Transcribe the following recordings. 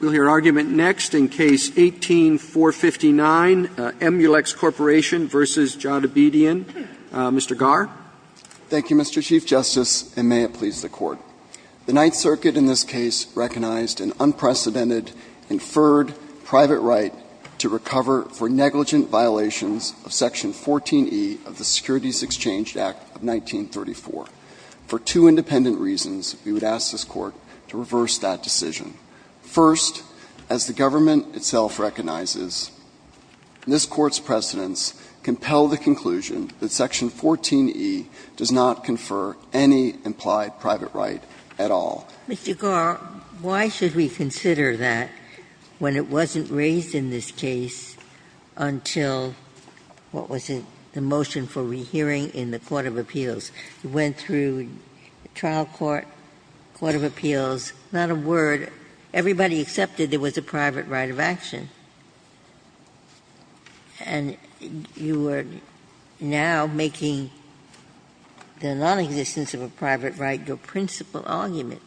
We'll hear argument next in Case 18-459, Emulex Corporation v. Varjabedian. Mr. Garr. Thank you, Mr. Chief Justice, and may it please the Court. The Ninth Circuit in this case recognized an unprecedented, inferred private right to recover for negligent violations of Section 14e of the Securities Exchange Act of 1934. For two independent reasons, we would ask this Court to reverse that decision. First, as the government itself recognizes, this Court's precedents compel the conclusion that Section 14e does not confer any implied private right at all. Mr. Garr, why should we consider that when it wasn't raised in this case until what was the motion for rehearing in the Court of Appeals? You went through trial court, Court of Appeals, not a word. Everybody accepted there was a private right of action. And you are now making the nonexistence of a private right your principal argument.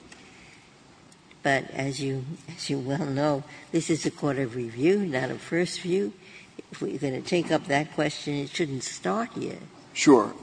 But as you well know, this is a court of review, not a first view. If we're going to take up that question, it shouldn't start here. Sure.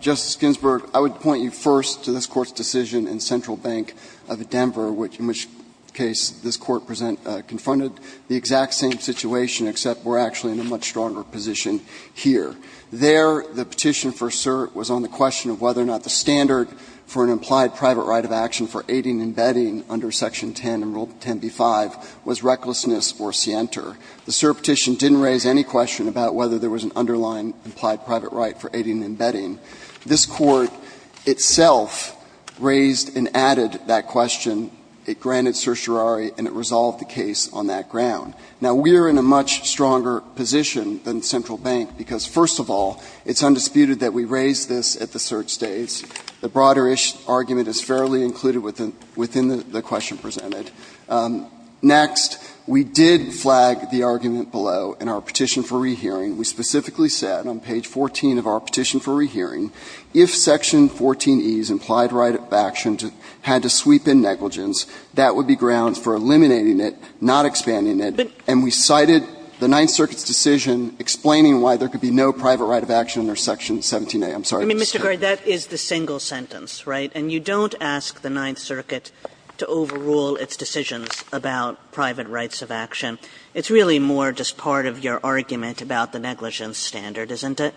Justice Ginsburg, I would point you first to this Court's decision in Central Bank of Denver, in which case this Court confronted the exact same situation, except we're actually in a much stronger position here. There, the petition for cert was on the question of whether or not the standard for an implied private right of action for aiding and abetting under Section 10 in Rule 10b-5 was recklessness or scienter. The cert petition didn't raise any question about whether there was an underlying implied private right for aiding and abetting. This Court itself raised and added that question. It granted certiorari and it resolved the case on that ground. Now, we are in a much stronger position than Central Bank because, first of all, it's undisputed that we raised this at the cert stage. The broader argument is fairly included within the question presented. Next, we did flag the argument below in our petition for rehearing. We specifically said on page 14 of our petition for rehearing, if Section 14e's implied right of action had to sweep in negligence, that would be grounds for eliminating it, not expanding it, and we cited the Ninth Circuit's decision explaining why there could be no private right of action under Section 17a. I'm sorry. Kagan. Kagan. Kagan. Kagan. Kagan. Kagan. Kagan. Kagan. Kagan. Kagan. Kagan. Kagan. Negligence standard, isn't it?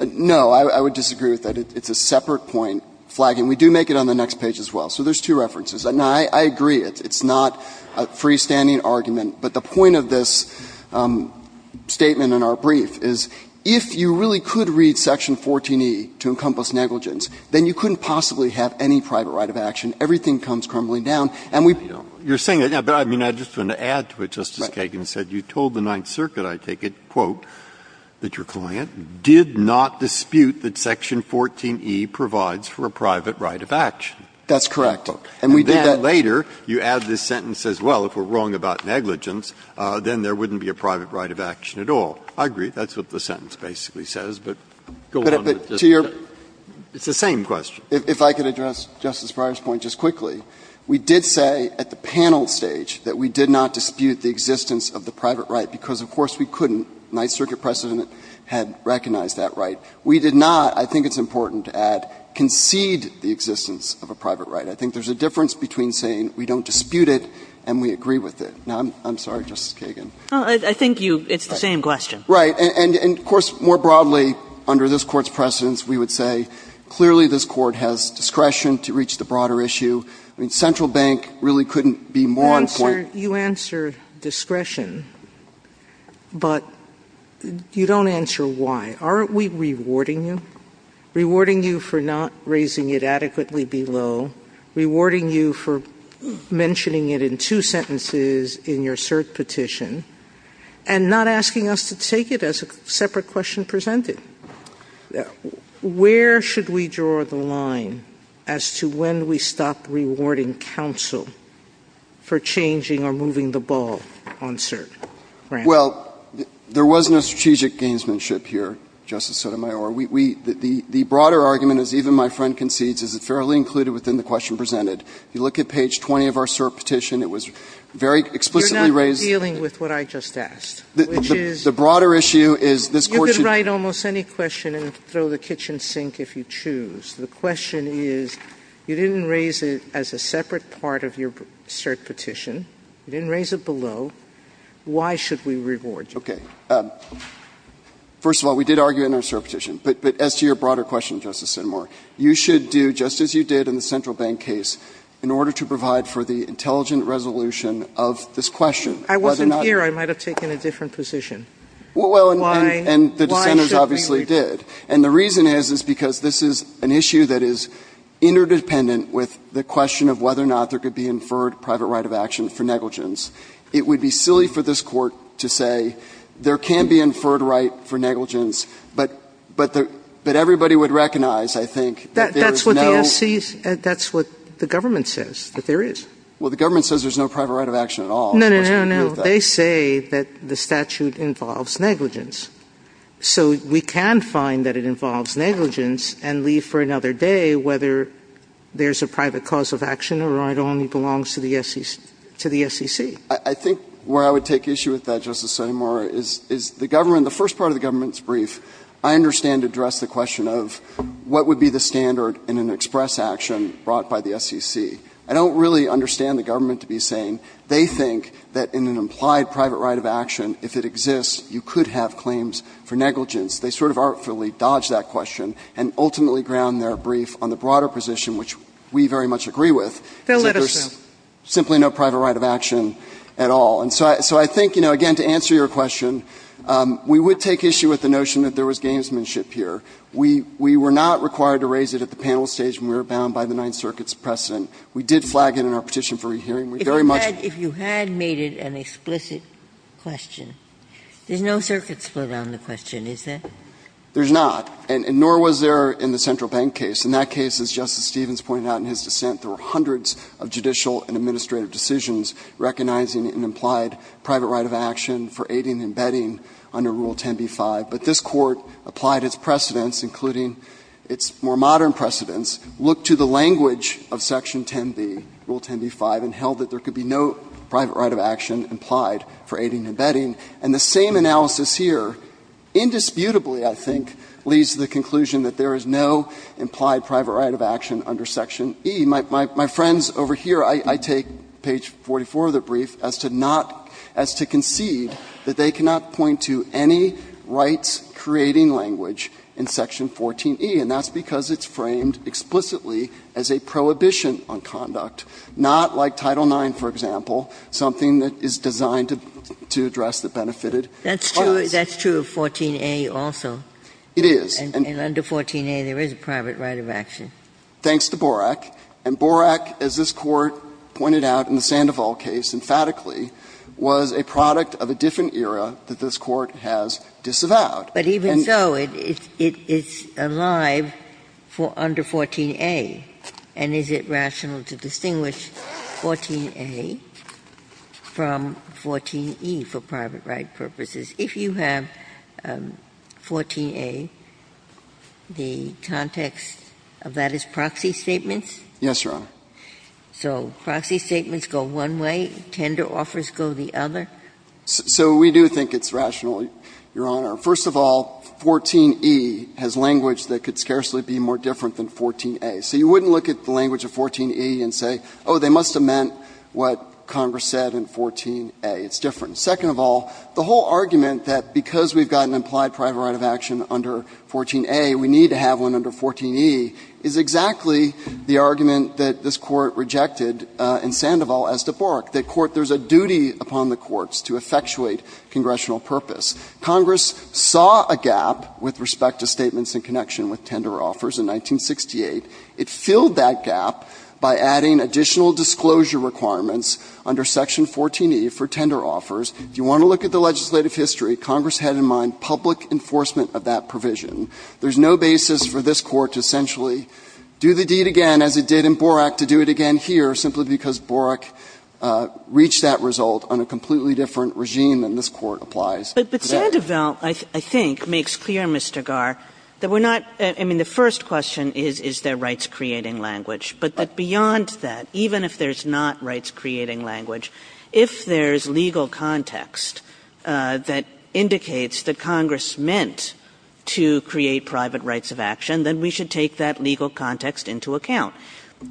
No, I would disagree with that. It's a separate point flagging. We do make it on the next page as well, so there's two references. I agree. It's not a free-standing argument, but the point of this statement in our brief is, if you really could read Section 14e to encompass negligence, then you couldn't possibly have any private right of action. Everything comes crumbling down. And we don't want that. But I mean, I just want to add to it, Justice Kagan, you said you told the Ninth Circuit, I take it, quote, that your client did not dispute that Section 14e provides for a private right of action. That's correct. And we did that. And then later, you add this sentence as well, if we're wrong about negligence, then there wouldn't be a private right of action at all. I agree. That's what the sentence basically says, but go on with it. It's the same question. If I could address Justice Breyer's point just quickly, we did say at the panel stage that we did not dispute the existence of the private right, because, of course, we couldn't. The Ninth Circuit precedent had recognized that right. We did not, I think it's important to add, concede the existence of a private right. I think there's a difference between saying we don't dispute it and we agree with it. Now, I'm sorry, Justice Kagan. I think you – it's the same question. Right. And, of course, more broadly, under this Court's precedence, we would say clearly this Court has discretion to reach the broader issue. I mean, central bank really couldn't be more important. You answer discretion, but you don't answer why. Aren't we rewarding you? Rewarding you for not raising it adequately below, rewarding you for mentioning it in two sentences in your cert petition, and not asking us to take it as a separate question presented. Where should we draw the line as to when we stop rewarding counsel for changing or moving the ball on cert? Well, there was no strategic gamesmanship here, Justice Sotomayor. We – the broader argument, as even my friend concedes, is it fairly included within the question presented. If you look at page 20 of our cert petition, it was very explicitly raised. You're not dealing with what I just asked, which is? The broader issue is this Court should – You can take almost any question and throw the kitchen sink if you choose. The question is, you didn't raise it as a separate part of your cert petition. You didn't raise it below. Why should we reward you? Okay. First of all, we did argue it in our cert petition. But as to your broader question, Justice Sotomayor, you should do just as you did in the central bank case in order to provide for the intelligent resolution of this question. I wasn't here. I might have taken a different position. Well, and the dissenters obviously did. And the reason is, is because this is an issue that is interdependent with the question of whether or not there could be inferred private right of action for negligence. It would be silly for this Court to say there can be inferred right for negligence, but everybody would recognize, I think, that there is no – That's what the FCC's – that's what the government says, that there is. Well, the government says there's no private right of action at all. No, no, no, no. They say that the statute involves negligence. So we can find that it involves negligence and leave for another day whether there's a private cause of action or it only belongs to the SEC. I think where I would take issue with that, Justice Sotomayor, is the government – the first part of the government's brief, I understand, addressed the question of what would be the standard in an express action brought by the SEC. I don't really understand the government to be saying they think that in an implied private right of action, if it exists, you could have claims for negligence. They sort of artfully dodged that question and ultimately ground their brief on the broader position, which we very much agree with. They're literal. There's simply no private right of action at all. And so I think, you know, again, to answer your question, we would take issue with the notion that there was gamesmanship here. We were not required to raise it at the panel stage when we were bound by the Ninth Amendment. We did flag it in our petition for re-hearing. We very much – Ginsburg. If you had made it an explicit question, there's no circuit split on the question, is there? There's not, and nor was there in the Central Bank case. In that case, as Justice Stevens pointed out in his dissent, there were hundreds of judicial and administrative decisions recognizing an implied private right of action for aiding and abetting under Rule 10b-5. But this Court applied its precedents, including its more modern precedents, looked to the language of Section 10b, Rule 10b-5, and held that there could be no private right of action implied for aiding and abetting. And the same analysis here indisputably, I think, leads to the conclusion that there is no implied private right of action under Section E. My friends over here, I take page 44 of the brief as to not – as to concede that they cannot point to any rights-creating language in Section 14e, and that's because it's framed explicitly as a prohibition on conduct, not like Title IX, for example, something that is designed to address the benefited. That's true of 14a also. It is. And under 14a, there is a private right of action. Thanks to Borak. And Borak, as this Court pointed out in the Sandoval case emphatically, was a product of a different era that this Court has disavowed. Ginsburg. But even so, it's alive for under 14a. And is it rational to distinguish 14a from 14e for private right purposes? If you have 14a, the context of that is proxy statements? Yes, Your Honor. So proxy statements go one way, tender offers go the other? So we do think it's rational, Your Honor. First of all, 14e has language that could scarcely be more different than 14a. So you wouldn't look at the language of 14e and say, oh, they must have meant what Congress said in 14a. It's different. Second of all, the whole argument that because we've got an implied private right of action under 14a, we need to have one under 14e is exactly the argument that this Court rejected in Sandoval as to Borak, that there's a duty upon the courts to effectuate congressional purpose. Congress saw a gap with respect to statements in connection with tender offers in 1968. It filled that gap by adding additional disclosure requirements under section 14e for tender offers. If you want to look at the legislative history, Congress had in mind public enforcement of that provision. There's no basis for this Court to essentially do the deed again as it did in Borak to do it again here, simply because Borak reached that result on a completely different regime than this Court applies. But Sandoval, I think, makes clear, Mr. Garre, that we're not – I mean, the first question is, is there rights-creating language, but that beyond that, even if there's not rights-creating language, if there's legal context that indicates that Congress meant to create private rights of action, then we should take that legal context into account.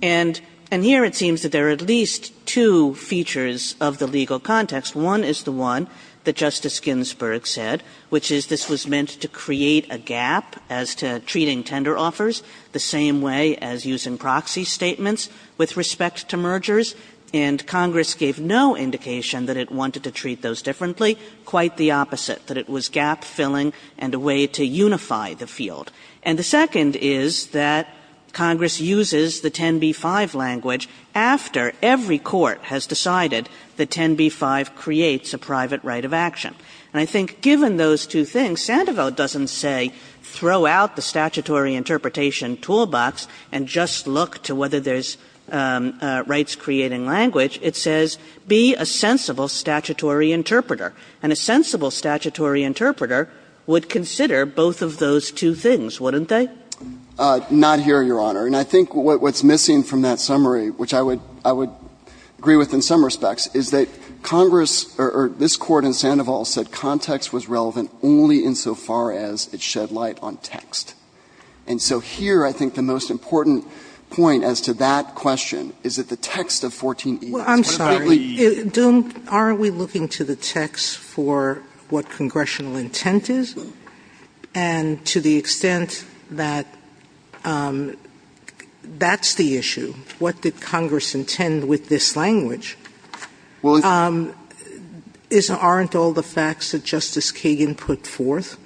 And here it seems that there are at least two features of the legal context. One is the one that Justice Ginsburg said, which is this was meant to create a gap as to treating tender offers the same way as using proxy statements with respect to mergers, and Congress gave no indication that it wanted to treat those differently. Quite the opposite, that it was gap-filling and a way to unify the field. And the second is that Congress uses the 10b-5 language after every court has decided that 10b-5 creates a private right of action. And I think given those two things, Sandoval doesn't say throw out the statutory interpretation toolbox and just look to whether there's rights-creating language. It says be a sensible statutory interpreter, and a sensible statutory interpreter would consider both of those two things, wouldn't they? Garre, Not here, Your Honor, and I think what's missing from that summary, which I would agree with in some respects, is that Congress or this Court in Sandoval said context was relevant only insofar as it shed light on text. And so here I think the most important point as to that question is that the text Sotomayor, I'm sorry. Don't we look to the text for what congressional intent is? And to the extent that that's the issue, what did Congress do? What did Congress intend with this language? Aren't all the facts that Justice Kagan put forth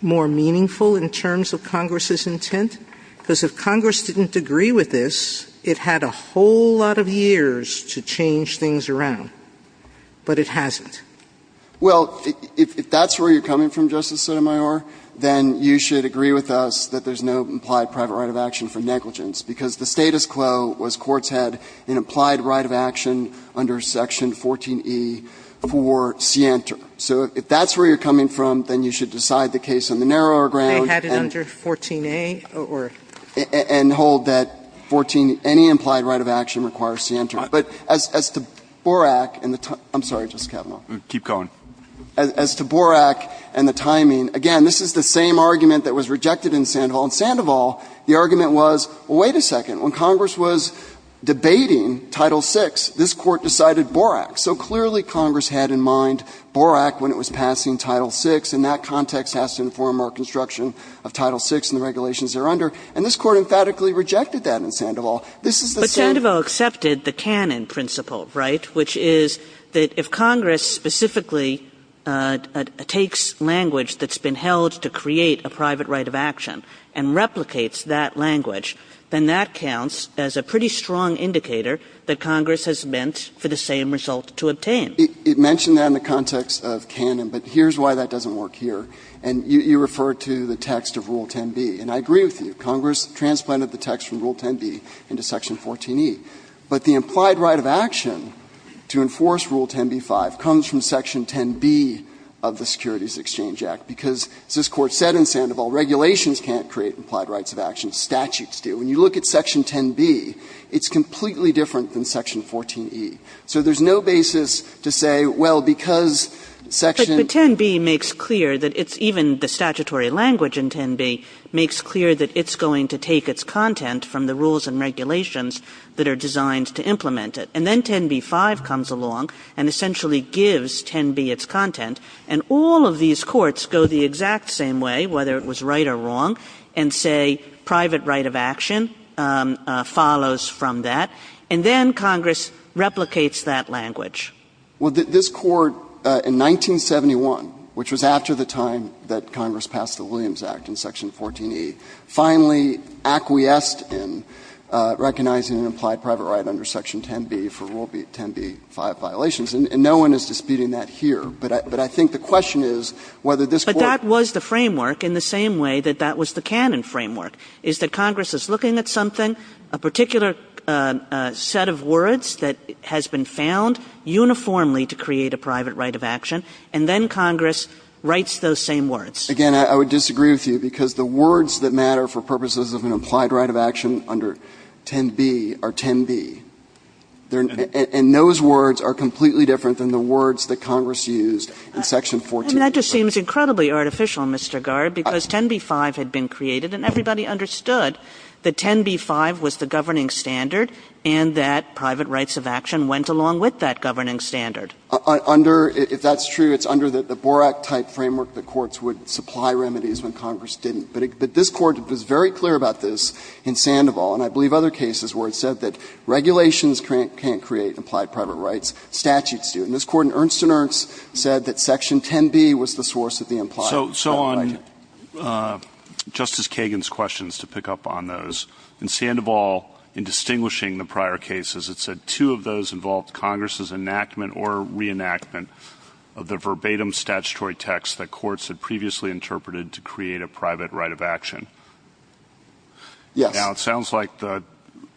more meaningful in terms of Congress's intent? Because if Congress didn't agree with this, it had a whole lot of years to change things around, but it hasn't. Well, if that's where you're coming from, Justice Sotomayor, then you should agree with us that there's no implied private right of action for negligence, because the status quo was courts had an implied right of action under Section 14E for scienter. So if that's where you're coming from, then you should decide the case on the narrower ground. They had it under 14A or? And hold that 14, any implied right of action requires scienter. But as to Borak and the time, I'm sorry, Justice Kavanaugh. Keep going. As to Borak and the timing, again, this is the same argument that was rejected in Sandoval. In Sandoval, the argument was, well, wait a second. When Congress was debating Title VI, this Court decided Borak. So clearly, Congress had in mind Borak when it was passing Title VI, and that context has to inform our construction of Title VI and the regulations they're under. And this Court emphatically rejected that in Sandoval. This is the same. But Sandoval accepted the canon principle, right, which is that if Congress specifically takes language that's been held to create a private right of action and replicates that language, then that counts as a pretty strong indicator that Congress has meant for the same result to obtain. It mentioned that in the context of canon, but here's why that doesn't work here. And you refer to the text of Rule 10b, and I agree with you. Congress transplanted the text from Rule 10b into Section 14e. But the implied right of action to enforce Rule 10b-5 comes from Section 10b of the Securities Exchange Act, because as this Court said in Sandoval, regulations can't create implied rights of action, statutes do. When you look at Section 10b, it's completely different than Section 14e. So there's no basis to say, well, because Section 10b makes clear that it's even the statutory language in 10b makes clear that it's going to take its content from the rules and regulations that are designed to implement it. And then 10b-5 comes along and essentially gives 10b its content, and all of these rules are defined in that same way, whether it was right or wrong, and say private right of action follows from that, and then Congress replicates that language. Well, this Court, in 1971, which was after the time that Congress passed the Williams Act in Section 14e, finally acquiesced in recognizing an implied private right under Section 10b for Rule 10b-5 violations, and no one is disputing that here. So that was the framework in the same way that that was the canon framework, is that Congress is looking at something, a particular set of words that has been found uniformly to create a private right of action, and then Congress writes those same words. Again, I would disagree with you, because the words that matter for purposes of an implied right of action under 10b are 10b, and those words are completely different than the words that Congress used in Section 14e. Kagan. And that just seems incredibly artificial, Mr. Garre, because 10b-5 had been created, and everybody understood that 10b-5 was the governing standard and that private rights of action went along with that governing standard. Under – if that's true, it's under the Borak-type framework that courts would supply remedies when Congress didn't. But this Court was very clear about this in Sandoval, and I believe other cases where it said that regulations can't create implied private rights, statutes do. And this Court in Ernst & Ernst said that Section 10b was the source of the implied private right. So on Justice Kagan's questions, to pick up on those, in Sandoval, in distinguishing the prior cases, it said two of those involved Congress's enactment or reenactment of the verbatim statutory text that courts had previously interpreted to create a private right of action. Yes. Now, it sounds like the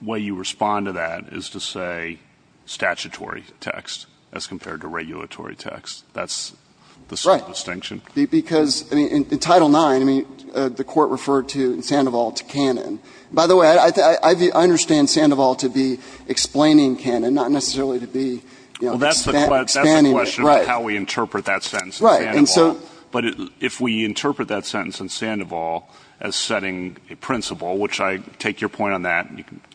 way you respond to that is to say statutory text as compared to regulatory text. That's the sort of distinction? Right. Because, I mean, in Title IX, I mean, the Court referred to Sandoval to canon. By the way, I understand Sandoval to be explaining canon, not necessarily to be, you know, expanding it. Well, that's the question of how we interpret that sentence in Sandoval. Right. And so – But if we interpret that sentence in Sandoval as setting a principle, which I – take your point on that,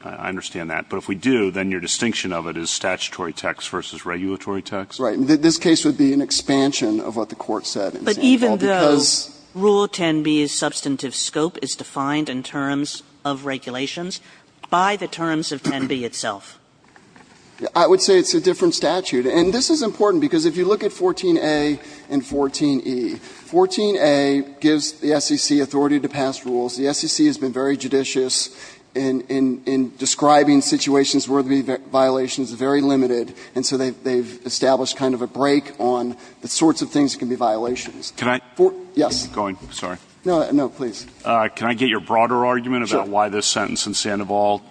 I understand that, but if we do, then your distinction of it is Right. This case would be an expansion of what the Court said in Sandoval because – But even though Rule 10b's substantive scope is defined in terms of regulations, by the terms of 10b itself? I would say it's a different statute. And this is important, because if you look at 14a and 14e, 14a gives the SEC authority to pass rules. The SEC has been very judicious in describing situations where there would be violations, very limited, and so they've established kind of a break on the sorts of things that can be violations. Can I – Yes. I'm going. Sorry. No, no, please. Can I get your broader argument about why this sentence in Sandoval?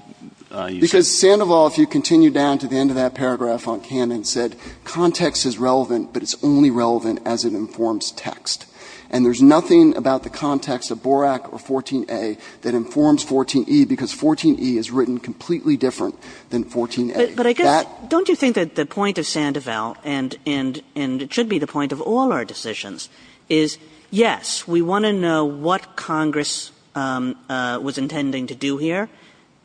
Because Sandoval, if you continue down to the end of that paragraph on canon, said context is relevant, but it's only relevant as it informs text. And there's nothing about the context of Borak or 14a that informs 14e, because 14e is written completely different than 14a. But I guess, don't you think that the point of Sandoval, and it should be the point of all our decisions, is, yes, we want to know what Congress was intending to do here,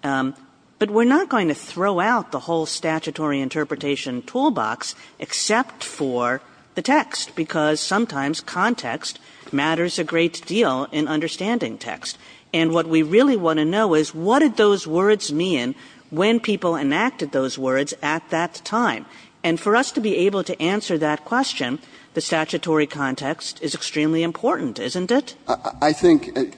but we're not going to throw out the whole statutory interpretation toolbox except for the text, because sometimes context matters a great deal in understanding text. And what we really want to know is, what did those words mean when people enacted those words at that time? And for us to be able to answer that question, the statutory context is extremely important, isn't it? I think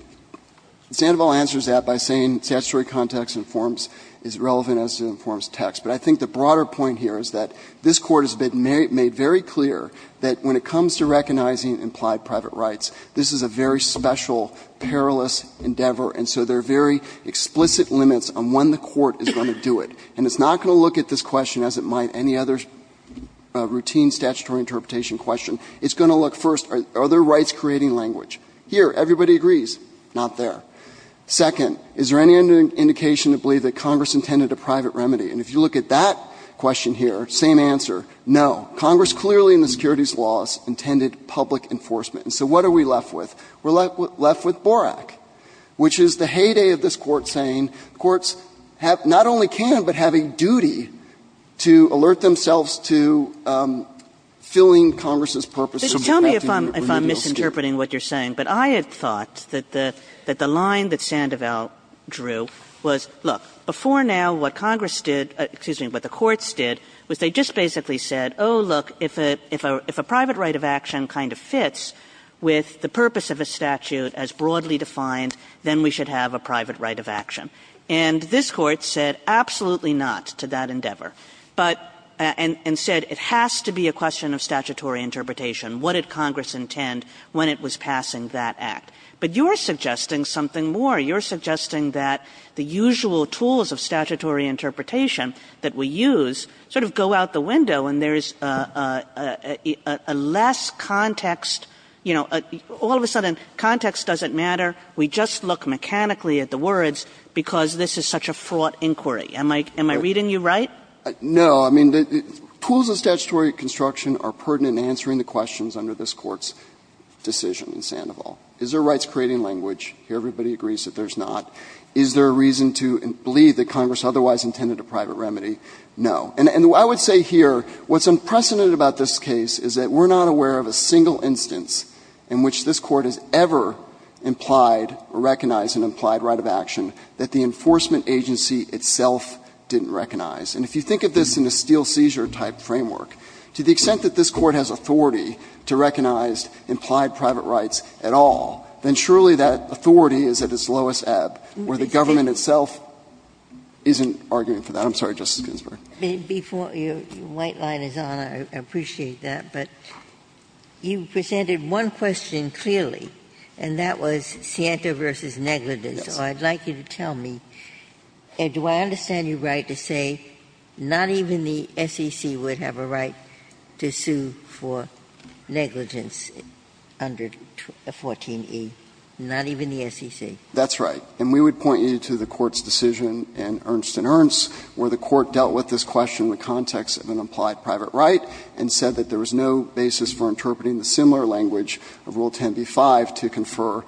Sandoval answers that by saying statutory context informs – is relevant as it informs text. But I think the broader point here is that this Court has been made very clear that when it comes to recognizing implied private rights, this is a very special, perilous endeavor, and so there are very explicit limits on when the Court is going to do it. And it's not going to look at this question as it might any other routine statutory interpretation question. It's going to look first, are there rights creating language? Here, everybody agrees, not there. Second, is there any indication to believe that Congress intended a private remedy? And if you look at that question here, same answer, no. Congress clearly in the securities laws intended public enforcement. And so what are we left with? We're left with Borak, which is the heyday of this Court saying the courts have – not only can but have a duty to alert themselves to filling Congress's purposes and adapting remedial steps. Kagan because tell me if I'm misinterpreting what you're saying, but I had thought that the – that the line that Sandoval drew was, look, before now, what Congress did – excuse me, but the courts did was they just basically said, oh, look, if a – if a statute as broadly defined, then we should have a private right of action. And this Court said absolutely not to that endeavor, but – and said it has to be a question of statutory interpretation. What did Congress intend when it was passing that act? But you're suggesting something more. You're suggesting that the usual tools of statutory interpretation that we use sort of go out the window and there's a less context, you know, all of a sudden context doesn't matter, we just look mechanically at the words because this is such a fraught inquiry. Am I – am I reading you right? No. I mean, the tools of statutory construction are pertinent in answering the questions under this Court's decision in Sandoval. Is there rights creating language? Here everybody agrees that there's not. Is there a reason to believe that Congress otherwise intended a private remedy? No. And I would say here what's unprecedented about this case is that we're not aware of a single instance in which this Court has ever implied or recognized an implied right of action that the enforcement agency itself didn't recognize. And if you think of this in a steel seizure type framework, to the extent that this Court has authority to recognize implied private rights at all, then surely that authority is at its lowest ebb, where the government itself isn't arguing for that. I'm sorry, Justice Ginsburg. Ginsburg. Before your white line is on, I appreciate that, but you presented one question clearly, and that was Scientia v. Negligence, so I'd like you to tell me, do I understand you right to say not even the SEC would have a right to sue for negligence under 14e, not even the SEC? That's right, and we would point you to the Court's decision in Ernst & Ernst where the Court dealt with this question in the context of an implied private right and said that there was no basis for interpreting the similar language of Rule 10b-5 to confer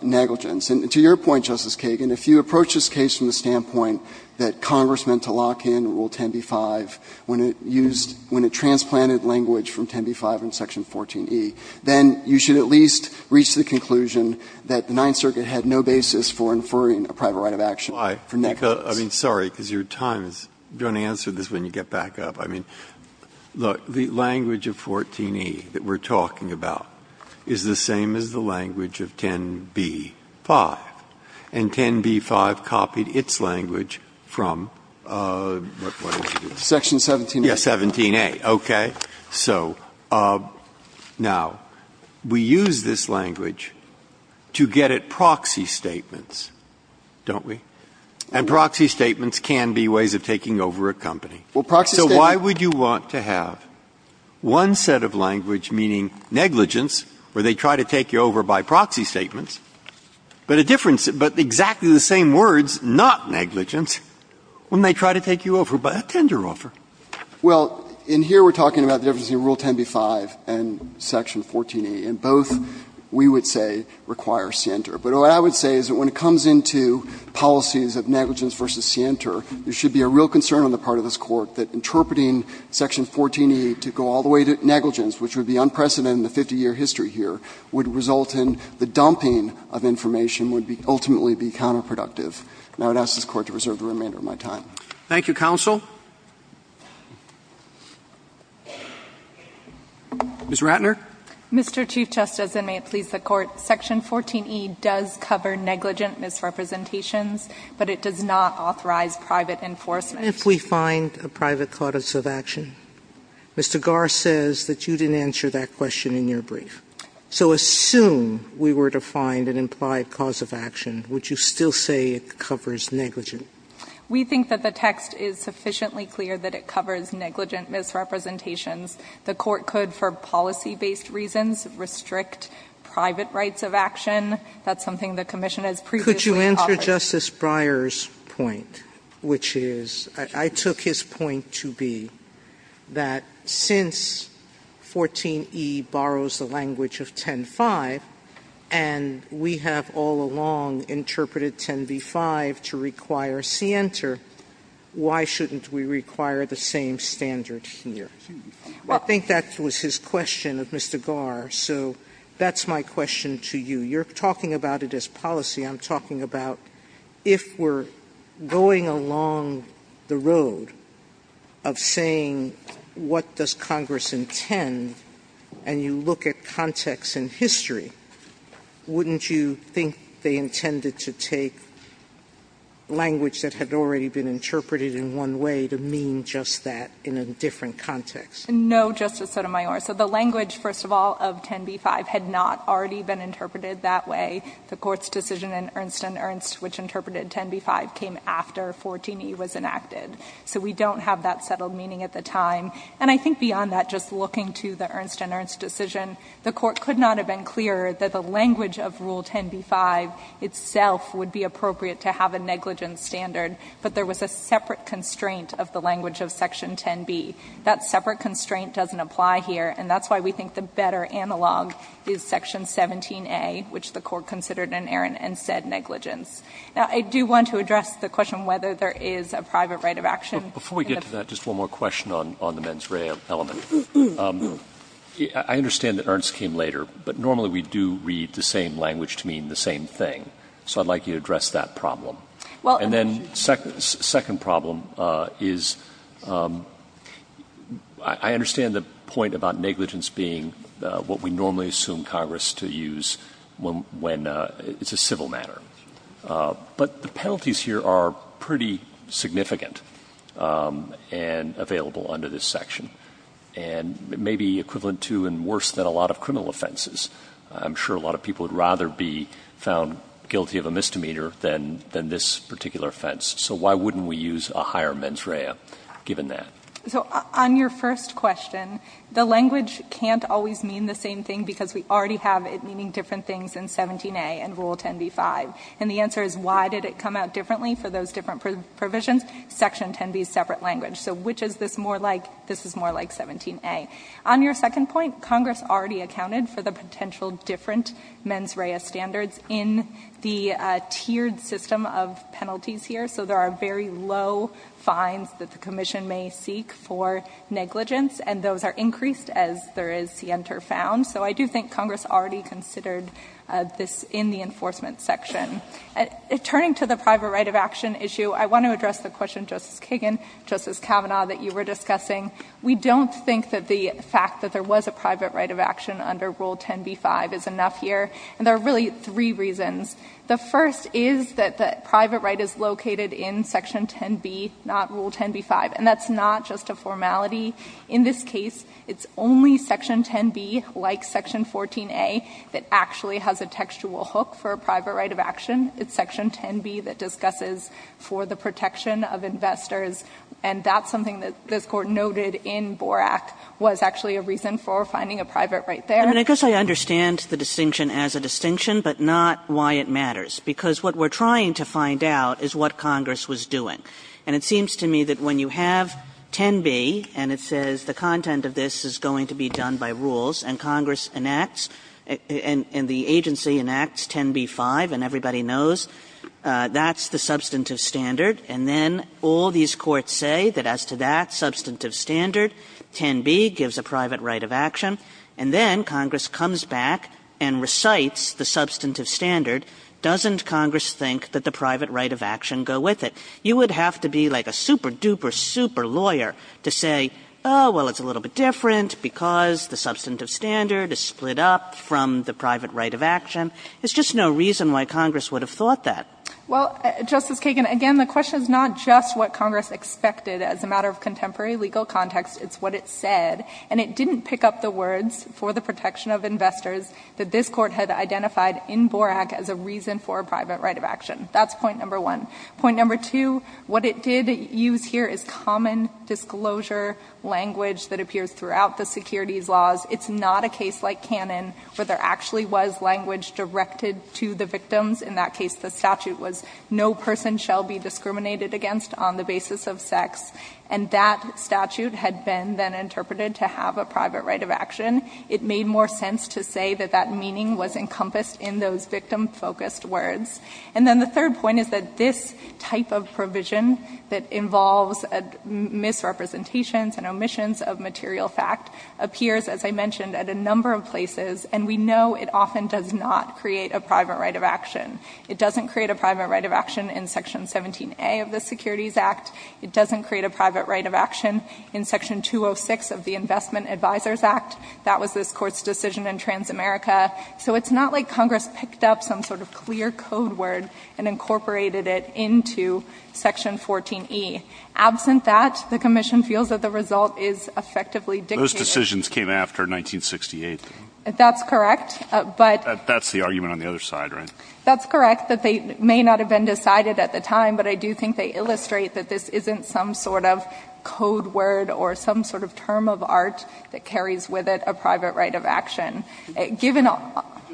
negligence. And to your point, Justice Kagan, if you approach this case from the standpoint that Congress meant to lock in Rule 10b-5 when it used – when it transplanted language from 10b-5 in Section 14e, then you should at least reach the conclusion that the Ninth Circuit had no basis for inferring a private right of action for negligence. Breyer. I mean, sorry, because your time is – you're going to answer this when you get back up. I mean, look, the language of 14e that we're talking about is the same as the language of 10b-5, and 10b-5 copied its language from – what did you do? Section 17a. Yeah, 17a. Okay. So now, we use this language to get at proxy statements, don't we? And proxy statements can be ways of taking over a company. Well, proxy statements – So why would you want to have one set of language meaning negligence, where they try to take you over by proxy statements, but a difference – but exactly the same words, not negligence, when they try to take you over by a tender offer? Well, in here we're talking about the difference between Rule 10b-5 and Section 14e, and both, we would say, require Sinter. But what I would say is that when it comes into policies of negligence versus Sinter, there should be a real concern on the part of this Court that interpreting Section 14e to go all the way to negligence, which would be unprecedented in the 50-year history here, would result in the dumping of information, would ultimately be counterproductive. And I would ask this Court to reserve the remainder of my time. Thank you, counsel. Ms. Ratner. Mr. Chief Justice, and may it please the Court, Section 14e does cover negligent misrepresentations, but it does not authorize private enforcement. If we find a private cause of action, Mr. Garre says that you didn't answer that question in your brief. So assume we were to find an implied cause of action, would you still say it covers negligent? We think that the text is sufficiently clear that it covers negligent misrepresentations. The Court could, for policy-based reasons, restrict private rights of action. That's something the Commission has previously covered. Could you answer Justice Breyer's point, which is, I took his point to be that since 14e borrows the language of 10.5, and we have all along interpreted 10b.5 to require Sinter, why shouldn't we require the same standard here? I think that was his question of Mr. Garre, so that's my question to you. You're talking about it as policy. I'm talking about if we're going along the road of saying what does Congress intend, and you look at context and history, wouldn't you think they intended to take language that had already been interpreted in one way to mean just that in a different context? No, Justice Sotomayor. So the language, first of all, of 10b.5 had not already been interpreted that way. The Court's decision in Ernst and Ernst, which interpreted 10b.5, came after 14e was enacted. So we don't have that settled meaning at the time. And I think beyond that, just looking to the Ernst and Ernst decision, the Court could not have been clearer that the language of Rule 10b.5 itself would be appropriate to have a negligent standard, but there was a separate constraint of the language of section 10b. That separate constraint doesn't apply here, and that's why we think the better analog is section 17a, which the Court considered in Ernst and said negligence. Now, I do want to address the question whether there is a private right of action in the ---- Before we get to that, just one more question on the mens rea element. I understand that Ernst came later, but normally we do read the same language to mean the same thing. So I'd like you to address that problem. And then the second problem is, I understand the point about negligence being what we normally assume Congress to use when it's a civil matter. But the penalties here are pretty significant and available under this section. And it may be equivalent to and worse than a lot of criminal offenses. I'm sure a lot of people would rather be found guilty of a misdemeanor than this particular offense. So why wouldn't we use a higher mens rea, given that? So on your first question, the language can't always mean the same thing because we already have it meaning different things in 17a and Rule 10b-5. And the answer is why did it come out differently for those different provisions? Section 10b is separate language. So which is this more like? This is more like 17a. On your second point, Congress already accounted for the potential different mens rea standards in the tiered system of penalties here. So there are very low fines that the commission may seek for negligence. And those are increased as there is sienter found. So I do think Congress already considered this in the enforcement section. Turning to the private right of action issue, I want to address the question, Justice Kagan, Justice Kavanaugh, that you were discussing. We don't think that the fact that there was a private right of action under Rule 10b-5 is enough here. And there are really three reasons. The first is that the private right is located in Section 10b, not Rule 10b-5. And that's not just a formality. In this case, it's only Section 10b, like Section 14a, that actually has a textual hook for a private right of action. It's Section 10b that discusses for the protection of investors. And that's something that this Court noted in Borak was actually a reason for finding a private right there. Kagan. Kagan. I guess I understand the distinction as a distinction, but not why it matters. Because what we're trying to find out is what Congress was doing. And it seems to me that when you have 10b and it says the content of this is going to be done by rules and Congress enacts and the agency enacts 10b-5 and everybody knows that's the substantive standard. And then all these courts say that as to that substantive standard, 10b gives a private right of action. And then Congress comes back and recites the substantive standard. Doesn't Congress think that the private right of action go with it? You would have to be like a super duper super lawyer to say, well, it's a little bit different because the substantive standard is split up from the private right of action. There's just no reason why Congress would have thought that. Well, Justice Kagan, again, the question is not just what Congress expected as a matter of contemporary legal context. It's what it said. And it didn't pick up the words for the protection of investors that this court had identified in Borak as a reason for a private right of action. That's point number one. Point number two, what it did use here is common disclosure language that appears throughout the securities laws. It's not a case like Cannon where there actually was language directed to the victims. In that case, the statute was no person shall be discriminated against on the basis of sex. And that statute had been then interpreted to have a private right of action. It made more sense to say that that meaning was encompassed in those victim focused words. And then the third point is that this type of provision that involves misrepresentations and omissions of material fact appears, as I mentioned, at a number of places. And we know it often does not create a private right of action. It doesn't create a private right of action in section 17A of the Securities Act. It doesn't create a private right of action in section 206 of the Investment Advisors Act. That was this court's decision in Transamerica. So it's not like Congress picked up some sort of clear code word and incorporated it into section 14E. Absent that, the commission feels that the result is effectively dictated. Those decisions came after 1968. That's correct, but- That's the argument on the other side, right? That's correct, that they may not have been decided at the time. But I do think they illustrate that this isn't some sort of code word or some sort of term of art that carries with it a private right of action. Given- Could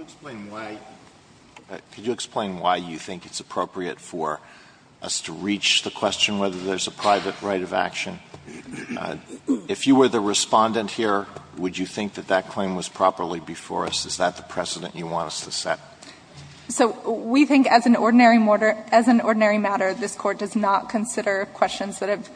you explain why you think it's appropriate for us to reach the question whether there's a private right of action? If you were the respondent here, would you think that that claim was properly before us? Is that the precedent you want us to set? So we think as an ordinary matter, this Court does not consider questions that have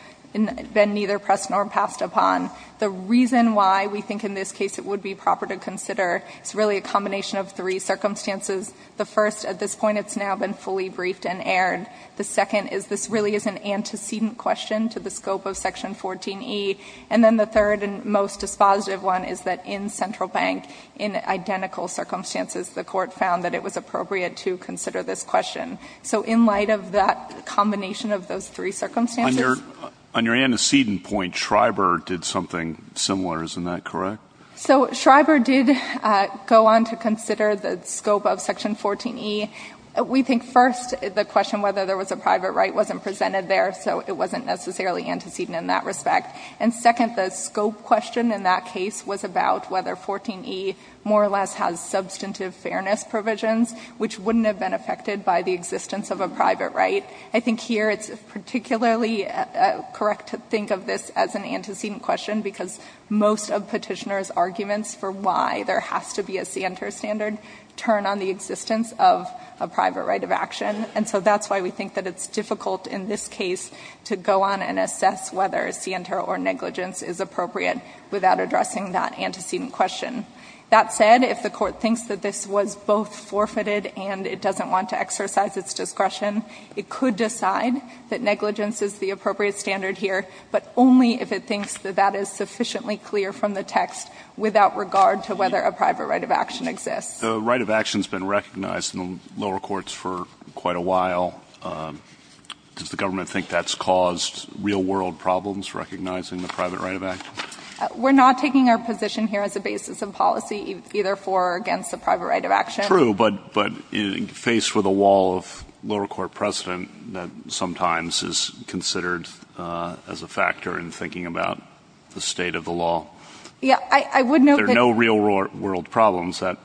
been neither pressed nor passed upon. The reason why we think in this case it would be proper to consider is really a combination of three circumstances. The first, at this point, it's now been fully briefed and aired. The second is this really is an antecedent question to the scope of Section 14E. And then the third and most dispositive one is that in Central Bank, in identical circumstances, the Court found that it was appropriate to consider this question. So in light of that combination of those three circumstances- On your antecedent point, Schreiber did something similar, isn't that correct? So Schreiber did go on to consider the scope of Section 14E. We think first, the question whether there was a private right wasn't presented there, so it wasn't necessarily antecedent in that respect. And second, the scope question in that case was about whether 14E more or less has substantive fairness provisions, which wouldn't have been affected by the existence of a private right. I think here it's particularly correct to think of this as an antecedent question because most of petitioner's arguments for why there has to be a scienter standard turn on the existence of a private right of action. And so that's why we think that it's difficult in this case to go on and assess whether scienter or negligence is appropriate without addressing that antecedent question. That said, if the court thinks that this was both forfeited and it doesn't want to exercise its discretion, it could decide that negligence is the appropriate standard here. But only if it thinks that that is sufficiently clear from the text without regard to whether a private right of action exists. The right of action's been recognized in the lower courts for quite a while. Does the government think that's caused real world problems, recognizing the private right of action? We're not taking our position here as a basis of policy, either for or against the private right of action. True, but faced with a wall of lower court precedent that sometimes is considered as a factor in thinking about the state of the law. Yeah, I would note that- There are no real world problems, that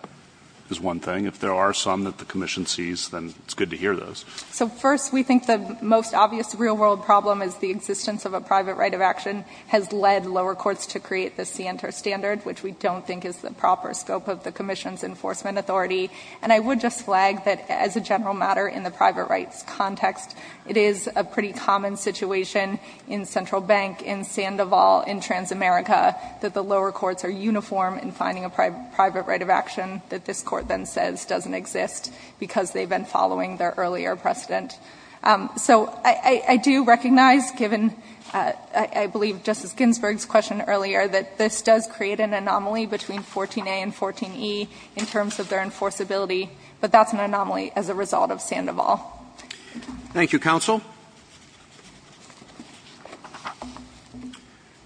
is one thing. If there are some that the commission sees, then it's good to hear those. So first, we think the most obvious real world problem is the existence of a private right of action has led lower courts to create the scienter standard, which we don't think is the proper scope of the commission's enforcement authority. And I would just flag that as a general matter in the private rights context, it is a pretty common situation in Central Bank, in Sandoval, in Transamerica, that the lower courts are uniform in finding a private right of action that this Court then says doesn't exist because they've been following their earlier precedent. So I do recognize, given I believe Justice Ginsburg's question earlier, that this does create an anomaly between 14a and 14e in terms of their enforcement responsibility, but that's an anomaly as a result of Sandoval. Thank you, counsel.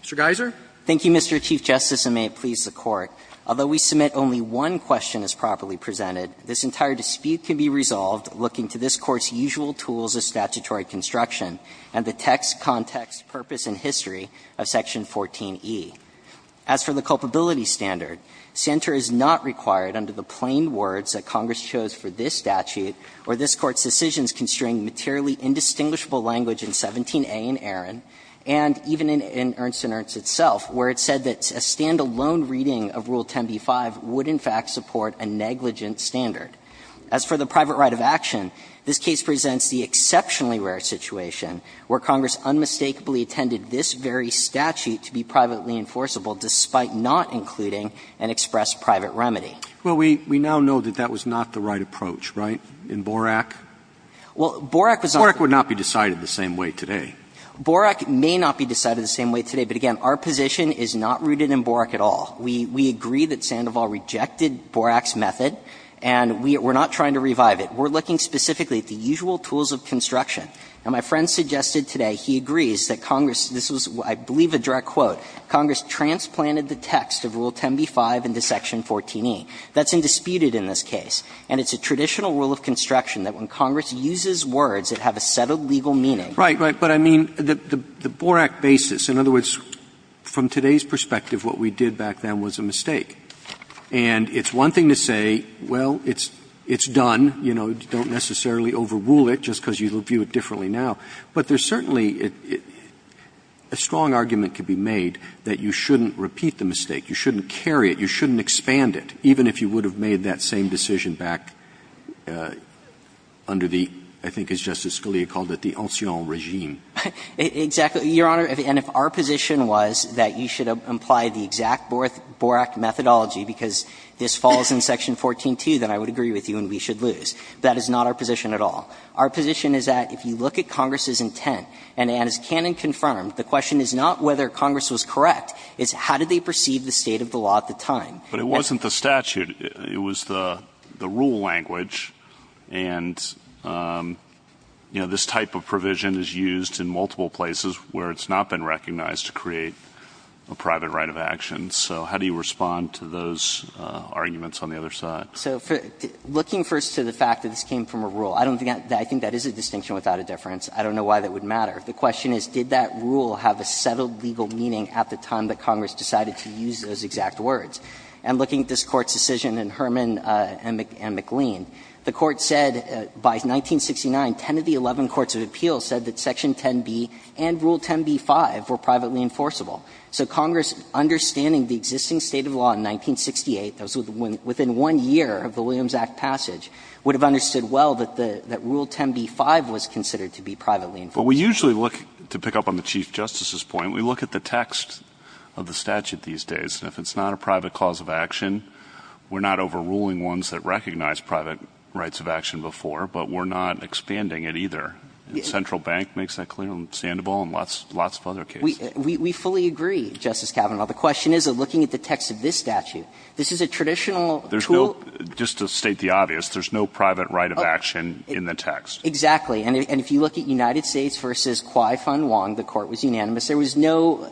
Mr. Geiser. Thank you, Mr. Chief Justice, and may it please the Court. Although we submit only one question as properly presented, this entire dispute can be resolved looking to this Court's usual tools of statutory construction and the text, context, purpose, and history of section 14e. As for the culpability standard, Santer is not required under the plain words that Congress chose for this statute or this Court's decisions concerning materially indistinguishable language in 17a in Arron and even in Ernst & Ernst itself, where it said that a standalone reading of Rule 10b-5 would in fact support a negligent standard. As for the private right of action, this case presents the exceptionally rare situation where Congress unmistakably intended this very statute to be privately enforceable despite not including an express private remedy. Well, we now know that that was not the right approach, right, in Borak? Well, Borak was not the right approach. Borak would not be decided the same way today. Borak may not be decided the same way today, but again, our position is not rooted in Borak at all. We agree that Sandoval rejected Borak's method and we're not trying to revive it. We're looking specifically at the usual tools of construction. And my friend suggested today he agrees that Congress – this was, I believe, a direct quote – Congress transplanted the text of Rule 10b-5 into Section 14e. That's indisputed in this case, and it's a traditional rule of construction that when Congress uses words that have a set of legal meaning. Right, right. But I mean, the Borak basis, in other words, from today's perspective, what we did back then was a mistake. And it's one thing to say, well, it's done, you know, don't necessarily overrule it just because you view it differently now. But there's certainly a strong argument could be made that you shouldn't repeat the mistake, you shouldn't carry it, you shouldn't expand it, even if you would have made that same decision back under the, I think as Justice Scalia called it, the ancien regime. Exactly. Your Honor, and if our position was that you should apply the exact Borak methodology because this falls in Section 14.2, then I would agree with you and we should lose. That is not our position at all. Our position is that if you look at Congress's intent, and as Cannon confirmed, the question is not whether Congress was correct, it's how did they perceive the state of the law at the time. But it wasn't the statute. It was the rule language, and, you know, this type of provision is used in multiple places where it's not been recognized to create a private right of action. So how do you respond to those arguments on the other side? So looking first to the fact that this came from a rule. I don't think that is a distinction without a difference. I don't know why that would matter. The question is, did that rule have a settled legal meaning at the time that Congress decided to use those exact words? And looking at this Court's decision in Herman and McLean, the Court said by 1969, 10 of the 11 courts of appeal said that Section 10b and Rule 10b-5 were privately enforceable. So Congress, understanding the existing state of law in 1968, that was within one year of the Williams Act passage, would have understood well that Rule 10b-5 was considered to be privately enforceable. But we usually look, to pick up on the Chief Justice's point, we look at the text of the statute these days. And if it's not a private cause of action, we're not overruling ones that recognize private rights of action before, but we're not expanding it either. The Central Bank makes that clear, and Sandoval and lots of other cases. We fully agree, Justice Kavanaugh. The question is, looking at the text of this statute, this is a traditional tool. There's no, just to state the obvious, there's no private right of action in the text. Exactly. And if you look at United States v. Kwai-Fung Wong, the Court was unanimous. There was no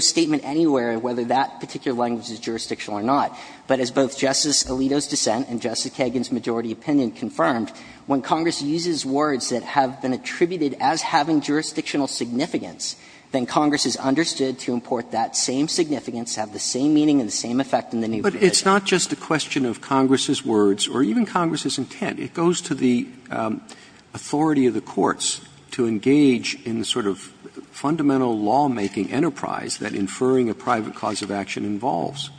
statement anywhere whether that particular language is jurisdictional or not. But as both Justice Alito's dissent and Justice Kagan's majority opinion confirmed, when Congress uses words that have been attributed as having jurisdictional significance, then Congress has understood to import that same significance, have the same meaning and the same effect in the new provision. But it's not just a question of Congress's words or even Congress's intent. It goes to the authority of the courts to engage in the sort of fundamental lawmaking enterprise that inferring a private cause of action involves.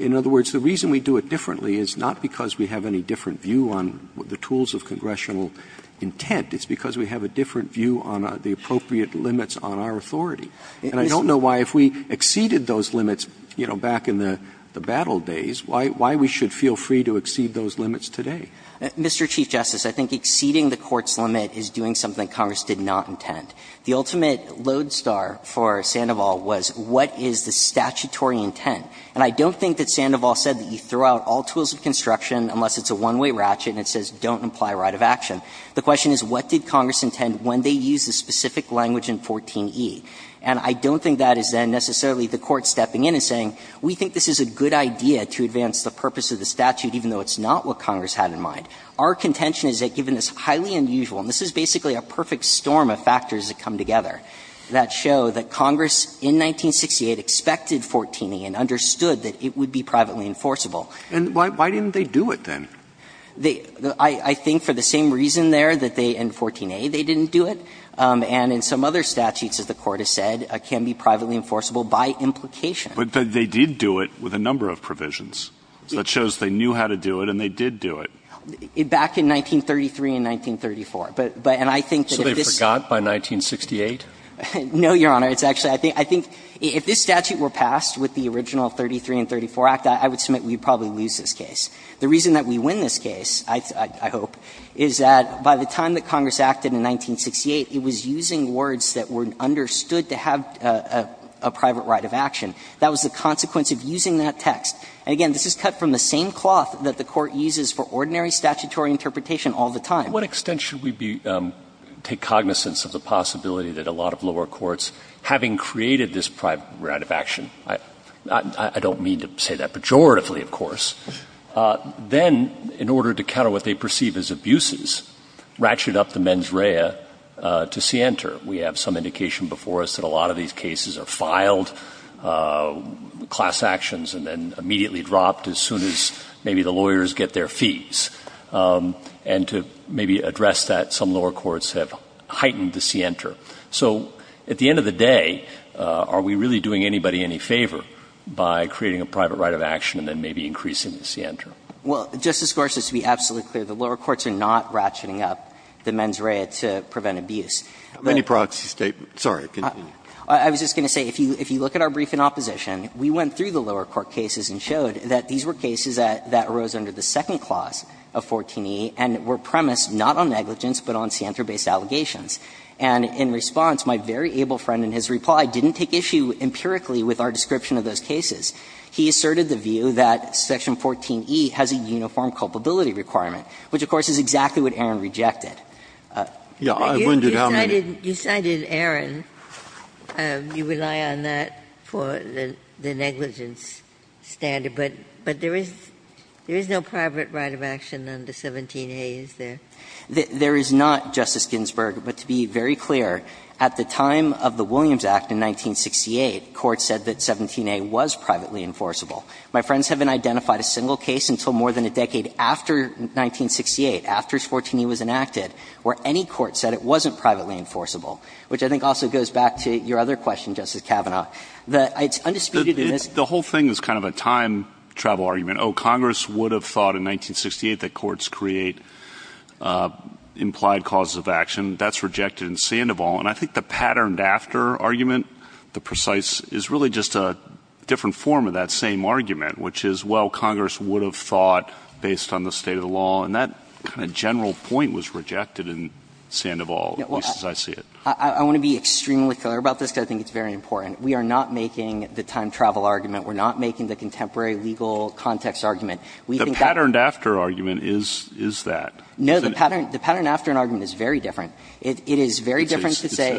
In other words, the reason we do it differently is not because we have any different view on the tools of congressional intent. It's because we have a different view on the appropriate limits on our authority. And I don't know why, if we exceeded those limits, you know, back in the battle days, why we should feel free to exceed those limits today. Mr. Chief Justice, I think exceeding the Court's limit is doing something Congress did not intend. The ultimate lodestar for Sandoval was what is the statutory intent. And I don't think that Sandoval said that you throw out all tools of construction unless it's a one-way ratchet and it says don't imply right of action. The question is, what did Congress intend when they used the specific language in 14e? And I don't think that is then necessarily the Court stepping in and saying, we think this is a good idea to advance the purpose of the statute, even though it's not what Congress had in mind. Our contention is that, given this highly unusual, and this is basically a perfect storm of factors that come together, that show that Congress in 1968 expected 14e and understood that it would be privately enforceable. And why didn't they do it then? I think for the same reason there that they in 14a, they didn't do it. And in some other statutes, as the Court has said, can be privately enforceable by implication. But they did do it with a number of provisions. So that shows they knew how to do it and they did do it. Back in 1933 and 1934. But and I think that if this So they forgot by 1968? No, Your Honor. It's actually, I think, if this statute were passed with the original 33 and 34 Act, I would submit we would probably lose this case. The reason that we win this case, I hope, is that by the time that Congress acted in 1968, it was using words that were understood to have a private right of action. That was the consequence of using that text. And again, this is cut from the same cloth that the Court uses for ordinary statutory interpretation all the time. What extent should we be, take cognizance of the possibility that a lot of lower courts, having created this private right of action, I don't mean to say that pejoratively, of course, then, in order to counter what they perceive as abuses, ratchet up the mens rea to scienter. We have some indication before us that a lot of these cases are filed, class actions, and then immediately dropped as soon as maybe the lawyers get their fees. And to maybe address that, some lower courts have heightened the scienter. So at the end of the day, are we really doing anybody any favor by creating a private right of action and then maybe increasing the scienter? Well, Justice Gorsuch, to be absolutely clear, the lower courts are not ratcheting up the mens rea to prevent abuse. The Court's statement, sorry, continue. I was just going to say, if you look at our brief in opposition, we went through the lower court cases and showed that these were cases that arose under the second clause of 14e and were premised not on negligence but on scienter-based allegations. And in response, my very able friend in his reply didn't take issue empirically with our description of those cases. He asserted the view that section 14e has a uniform culpability requirement, which, of course, is exactly what Aaron rejected. Scalia, you cited Aaron. You rely on that for the negligence standard. But there is no private right of action under 17a, is there? There is not, Justice Ginsburg. But to be very clear, at the time of the Williams Act in 1968, court said that 17a was privately enforceable. My friends haven't identified a single case until more than a decade after 1968, after 14e was enacted, where any court said it wasn't privately enforceable, which I think also goes back to your other question, Justice Kavanaugh. The whole thing is kind of a time travel argument. Oh, Congress would have thought in 1968 that courts create implied causes of action. That's rejected in Sandoval. And I think the patterned after argument, the precise, is really just a different form of that same argument, which is, well, Congress would have thought based on the state of the law. And that kind of general point was rejected in Sandoval, at least as I see it. I want to be extremely clear about this, because I think it's very important. We are not making the time travel argument. We're not making the contemporary legal context argument. The patterned after argument is that. No, the patterned after argument is very different. It is very different to say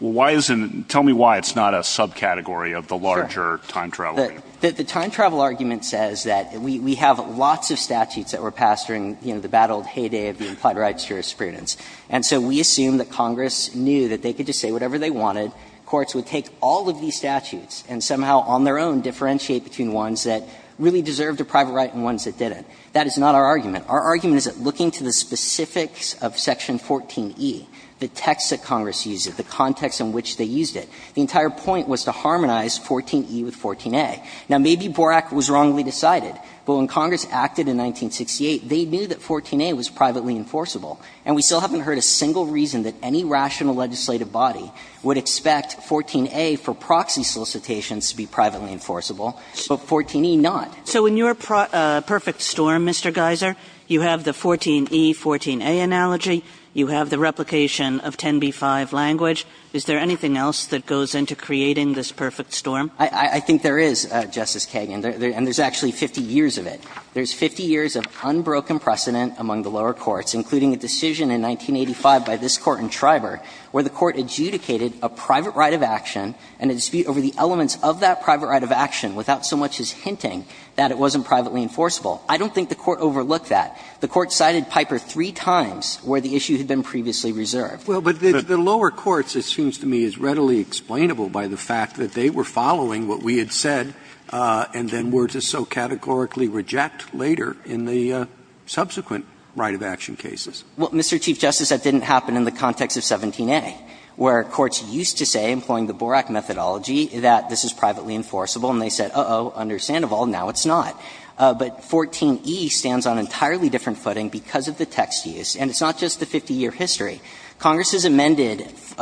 why isn't, tell me why it's not a subcategory of the larger time travel argument. The time travel argument says that we have lots of statutes that were passed during the bad old heyday of the implied rights jurisprudence. And so we assume that Congress knew that they could just say whatever they wanted. Courts would take all of these statutes and somehow on their own differentiate between ones that really deserved a private right and ones that didn't. That is not our argument. Our argument is that looking to the specifics of Section 14e, the text that Congress used, the context in which they used it, the entire point was to harmonize 14e with 14a. Now, maybe Borak was wrongly decided, but when Congress acted in 1968, they knew that 14a was privately enforceable. And we still haven't heard a single reason that any rational legislative body would expect 14a for proxy solicitations to be privately enforceable, but 14e not. Kagan. So in your perfect storm, Mr. Geyser, you have the 14e, 14a analogy, you have the replication of 10b-5 language. Is there anything else that goes into creating this perfect storm? I think there is, Justice Kagan, and there's actually 50 years of it. There's 50 years of unbroken precedent among the lower courts, including a decision in 1985 by this Court in Triber where the Court adjudicated a private right of action and a dispute over the elements of that private right of action without so much as hinting that it wasn't privately enforceable. I don't think the Court overlooked that. The Court cited Piper three times where the issue had been previously reserved. Well, but the lower courts, it seems to me, is readily explainable by the fact that they were following what we had said, and then were to so categorically reject later in the subsequent right of action cases. Well, Mr. Chief Justice, that didn't happen in the context of 17a, where courts used to say, employing the Borak methodology, that this is privately enforceable, and they said, uh-oh, under Sandoval, now it's not. But 14e stands on entirely different footing because of the text use, and it's not just the 50-year history. Congress has amended the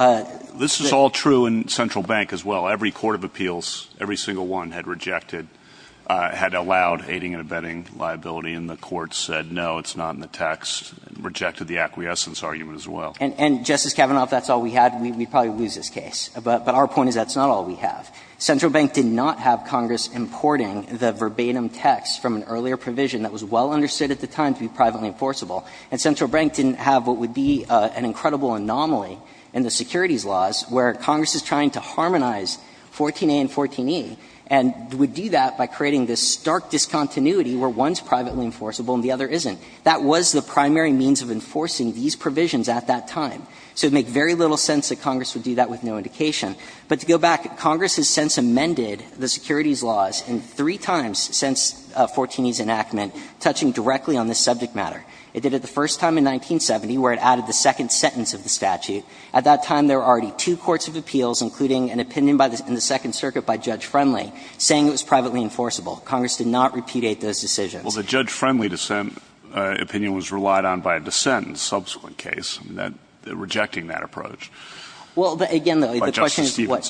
---- This is all true in Central Bank as well. Every court of appeals, every single one, had rejected, had allowed aiding and abetting liability, and the Court said, no, it's not in the text, and rejected the acquiescence argument as well. And, Justice Kavanaugh, if that's all we had, we'd probably lose this case. But our point is that's not all we have. Central Bank did not have Congress importing the verbatim text from an earlier provision that was well understood at the time to be privately enforceable. And Central Bank didn't have what would be an incredible anomaly in the securities laws where Congress is trying to harmonize 14a and 14e, and would do that by creating this stark discontinuity where one's privately enforceable and the other isn't. That was the primary means of enforcing these provisions at that time. So it would make very little sense that Congress would do that with no indication. But to go back, Congress has since amended the securities laws in three times since 14e's enactment, touching directly on this subject matter. It did it the first time in 1970, where it added the second sentence of the statute. At that time, there were already two courts of appeals, including an opinion in the Second Circuit by Judge Friendly, saying it was privately enforceable. Congress did not repudiate those decisions. Well, the Judge Friendly opinion was relied on by a dissent in the subsequent case, rejecting that approach. Well, again, the question is what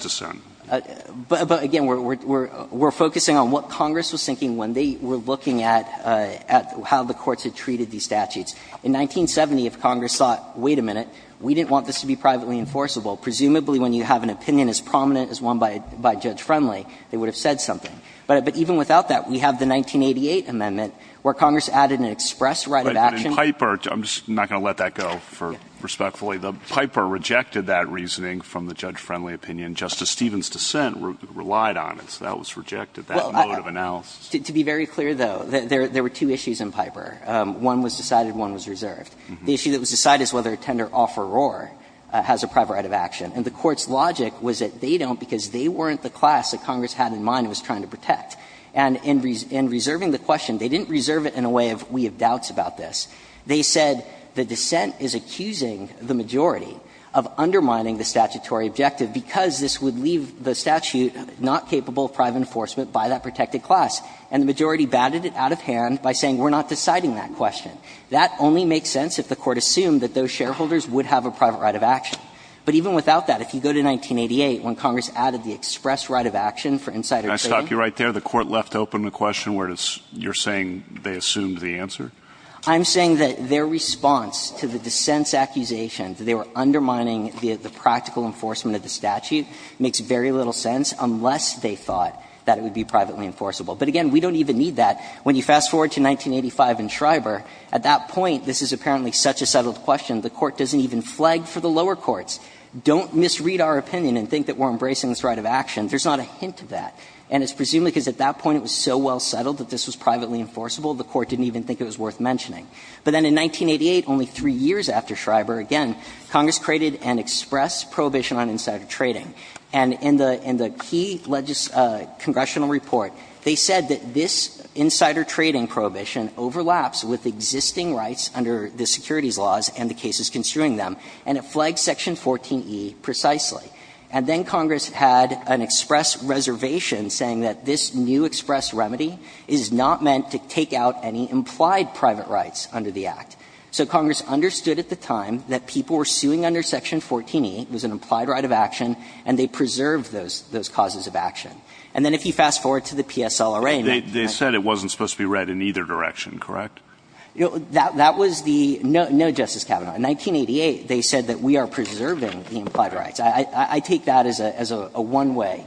But again, we're focusing on what Congress was thinking when they were looking at how the courts had treated these statutes. In 1970, if Congress thought, wait a minute, we didn't want this to be privately enforceable, presumably when you have an opinion as prominent as one by Judge Friendly, they would have said something. But even without that, we have the 1988 amendment where Congress added an express right of action. But in Piper, I'm just not going to let that go for respectfully, but Piper rejected that reasoning from the Judge Friendly opinion. Justice Stevens' dissent relied on it, so that was rejected, that mode of analysis. Well, to be very clear, though, there were two issues in Piper. One was decided, one was reserved. The issue that was decided is whether a tender offeror has a private right of action. And the Court's logic was that they don't because they weren't the class that Congress had in mind and was trying to protect. And in reserving the question, they didn't reserve it in a way of we have doubts about this. They said the dissent is accusing the majority of undermining the statutory objective because this would leave the statute not capable of private enforcement by that protected class. And the majority batted it out of hand by saying we're not deciding that question. That only makes sense if the Court assumed that those shareholders would have a private right of action. But even without that, if you go to 1988 when Congress added the express right of action for insider trading. Can I stop you right there? The Court left open the question where it's you're saying they assumed the answer? I'm saying that their response to the dissent's accusation that they were undermining the practical enforcement of the statute makes very little sense unless they thought that it would be privately enforceable. But again, we don't even need that. When you fast forward to 1985 in Schreiber, at that point, this is apparently such a settled question, the Court doesn't even flag for the lower courts. Don't misread our opinion and think that we're embracing this right of action. There's not a hint of that. And it's presumably because at that point it was so well settled that this was privately enforceable, the Court didn't even think it was worth mentioning. But then in 1988, only three years after Schreiber, again, Congress created an express prohibition on insider trading. And in the key congressional report, they said that this insider trading prohibition overlaps with existing rights under the securities laws and the cases construing them, and it flags Section 14e precisely. And then Congress had an express reservation saying that this new express remedy is not meant to take out any implied private rights under the Act. So Congress understood at the time that people were suing under Section 14e, it was And they preserved those causes of action. And then if you fast-forward to the PSLRA in 1995. They said it wasn't supposed to be read in either direction, correct? That was the no Justice Kavanaugh. In 1988, they said that we are preserving the implied rights. I take that as a one-way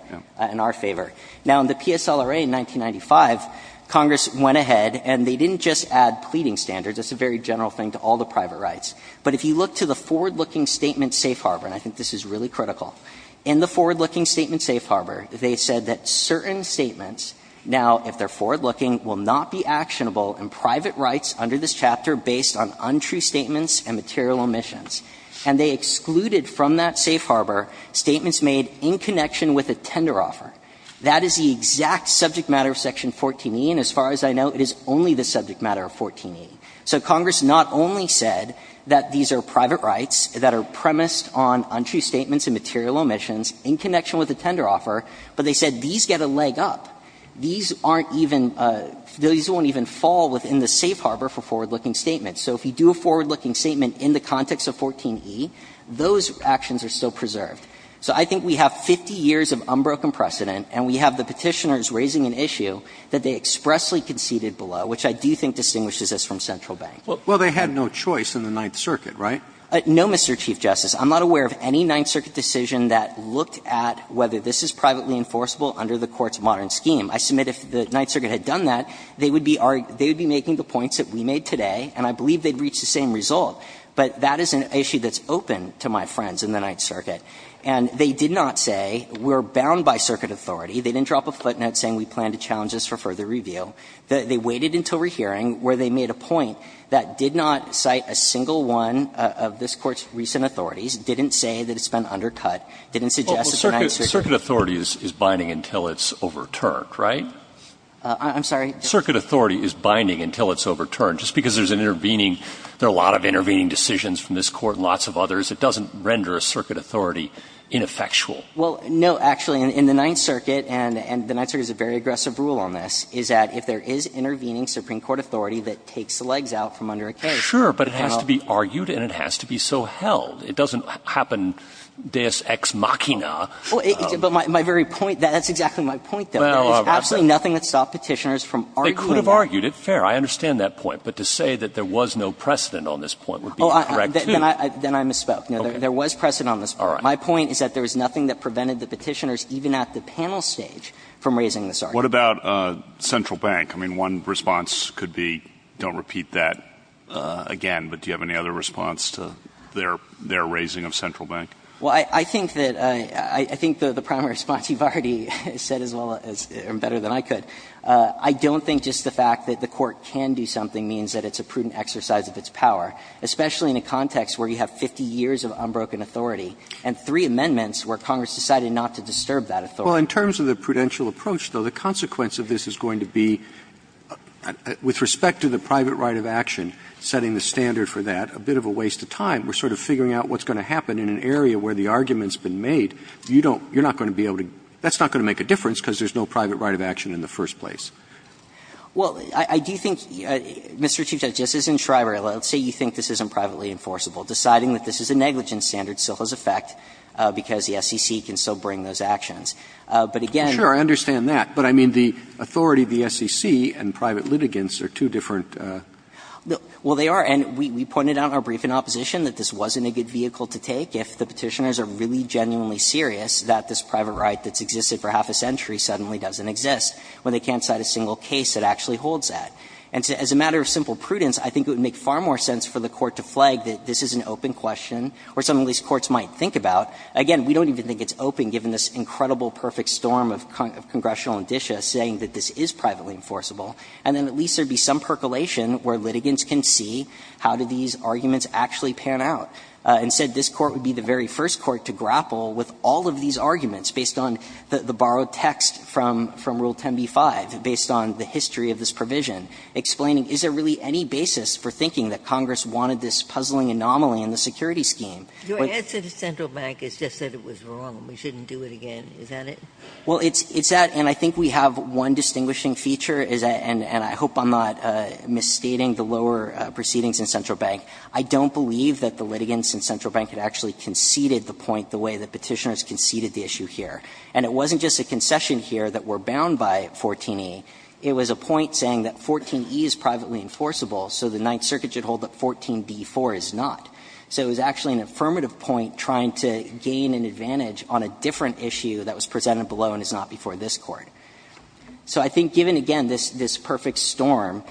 in our favor. Now, in the PSLRA in 1995, Congress went ahead and they didn't just add pleading standards, that's a very general thing to all the private rights. But if you look to the forward-looking statement Safe Harbor, and I think this is really critical, in the forward-looking statement Safe Harbor, they said that certain statements, now, if they're forward-looking, will not be actionable in private rights under this chapter based on untrue statements and material omissions. And they excluded from that Safe Harbor statements made in connection with a tender offer. That is the exact subject matter of Section 14e, and as far as I know, it is only the subject matter of 14e. So Congress not only said that these are private rights that are premised on untrue statements and material omissions in connection with a tender offer, but they said these get a leg up. These aren't even – these won't even fall within the Safe Harbor for forward-looking statements. So if you do a forward-looking statement in the context of 14e, those actions are still preserved. So I think we have 50 years of unbroken precedent, and we have the Petitioners raising an issue that they expressly conceded below, which I do think distinguishes us from Central Bank. Sotomayor, Well, they had no choice in the Ninth Circuit, right? No, Mr. Chief Justice. I'm not aware of any Ninth Circuit decision that looked at whether this is privately enforceable under the Court's modern scheme. I submit if the Ninth Circuit had done that, they would be making the points that we made today, and I believe they'd reach the same result. But that is an issue that's open to my friends in the Ninth Circuit. And they did not say we're bound by circuit authority. They didn't drop a footnote saying we plan to challenge this for further review. They waited until rehearing where they made a point that did not cite a single one of this Court's recent authorities, didn't say that it's been undercut, didn't suggest that the Ninth Circuit. Circuit authority is binding until it's overturned, right? I'm sorry? Circuit authority is binding until it's overturned. Just because there's an intervening – there are a lot of intervening decisions from this Court and lots of others, it doesn't render a circuit authority ineffectual. Well, no, actually, in the Ninth Circuit, and the Ninth Circuit has a very aggressive rule on this, is that if there is intervening Supreme Court authority that takes the legs out from under a case. Sure, but it has to be argued and it has to be so held. It doesn't happen deus ex machina. Well, but my very point – that's exactly my point, though. There is absolutely nothing that stopped Petitioners from arguing that. They could have argued it, fair, I understand that point. But to say that there was no precedent on this point would be incorrect, too. Then I misspoke. No, there was precedent on this point. My point is that there was nothing that prevented the Petitioners, even at the panel stage, from raising this argument. What about Central Bank? I mean, one response could be, don't repeat that. Again, but do you have any other response to their raising of Central Bank? Well, I think that – I think the primary response you've already said as well as – or better than I could. I don't think just the fact that the Court can do something means that it's a prudent exercise of its power, especially in a context where you have 50 years of unbroken authority and three amendments where Congress decided not to disturb that authority. Well, in terms of the prudential approach, though, the consequence of this is going to be, with respect to the private right of action, setting the standard for that, a bit of a waste of time. We're sort of figuring out what's going to happen in an area where the argument has been made. You don't – you're not going to be able to – that's not going to make a difference because there's no private right of action in the first place. Well, I do think, Mr. Chief Justice, in Shriver, let's say you think this isn't privately enforceable. Deciding that this is a negligence standard still has effect because the SEC can still bring those actions. But again – Sure, I understand that. But I mean, the authority of the SEC and private litigants are two different – Well, they are. And we pointed out in our brief in opposition that this wasn't a good vehicle to take if the Petitioners are really genuinely serious that this private right that's existed for half a century suddenly doesn't exist, when they can't cite a single case that actually holds that. And as a matter of simple prudence, I think it would make far more sense for the Court to flag that this is an open question or something these courts might think about. Again, we don't even think it's open, given this incredible, perfect storm of congressional indicia saying that this is privately enforceable. And then at least there would be some percolation where litigants can see how do these arguments actually pan out. Instead, this Court would be the very first court to grapple with all of these arguments based on the borrowed text from Rule 10b-5, based on the history of this provision, explaining is there really any basis for thinking that Congress wanted this puzzling anomaly in the security scheme. Ginsburg-Your answer to Central Bank is just that it was wrong, we shouldn't do it again. Is that it? Burschel, Well, it's that, and I think we have one distinguishing feature, and I hope I'm not misstating the lower proceedings in Central Bank. I don't believe that the litigants in Central Bank had actually conceded the point the way that Petitioners conceded the issue here. And it wasn't just a concession here that we're bound by 14e, it was a point saying that 14e is privately enforceable, so the Ninth Circuit should hold that 14b-4 is not. So it was actually an affirmative point trying to gain an advantage on a different issue that was presented below and is not before this Court. So I think, given, again, this perfect storm,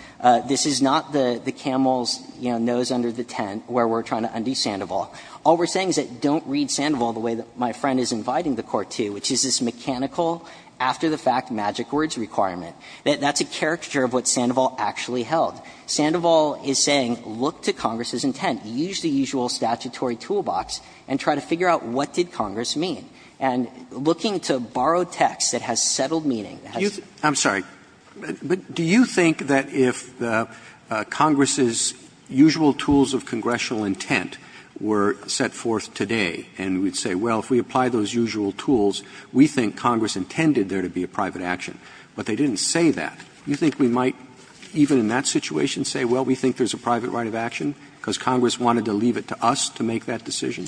this is not the camel's, you know, nose under the tent where we're trying to undo Sandoval. All we're saying is don't read Sandoval the way that my friend is inviting the Court to, which is this mechanical, after-the-fact magic words requirement. That's a caricature of what Sandoval actually held. Sandoval is saying look to Congress's intent. Use the usual statutory toolbox and try to figure out what did Congress mean. And looking to borrow text that has settled meaning, that has settled meaning has settled meaning. Roberts. Do you think that if Congress's usual tools of congressional intent were set forth today and we'd say, well, if we apply those usual tools, we think Congress intended there to be a private action, but they didn't say that, you think we might, even in that situation, say, well, we think there's a private right of action because Congress wanted to leave it to us to make that decision?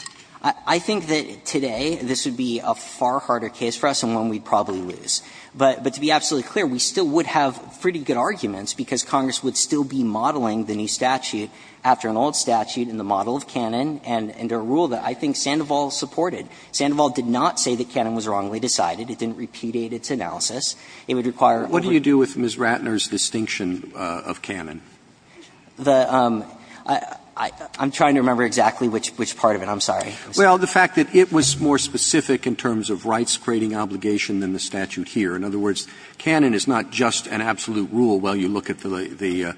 I think that today this would be a far harder case for us and one we'd probably lose. But to be absolutely clear, we still would have pretty good arguments because Congress would still be modeling the new statute after an old statute in the model of Canon and under a rule that I think Sandoval supported. Sandoval did not say that Canon was wrongly decided. It didn't repudiate its analysis. It would require a little bit more. Roberts Well, I'm trying to remember exactly which part of it. I'm sorry. Roberts Well, the fact that it was more specific in terms of rights-creating obligation than the statute here. In other words, Canon is not just an absolute rule while you look at the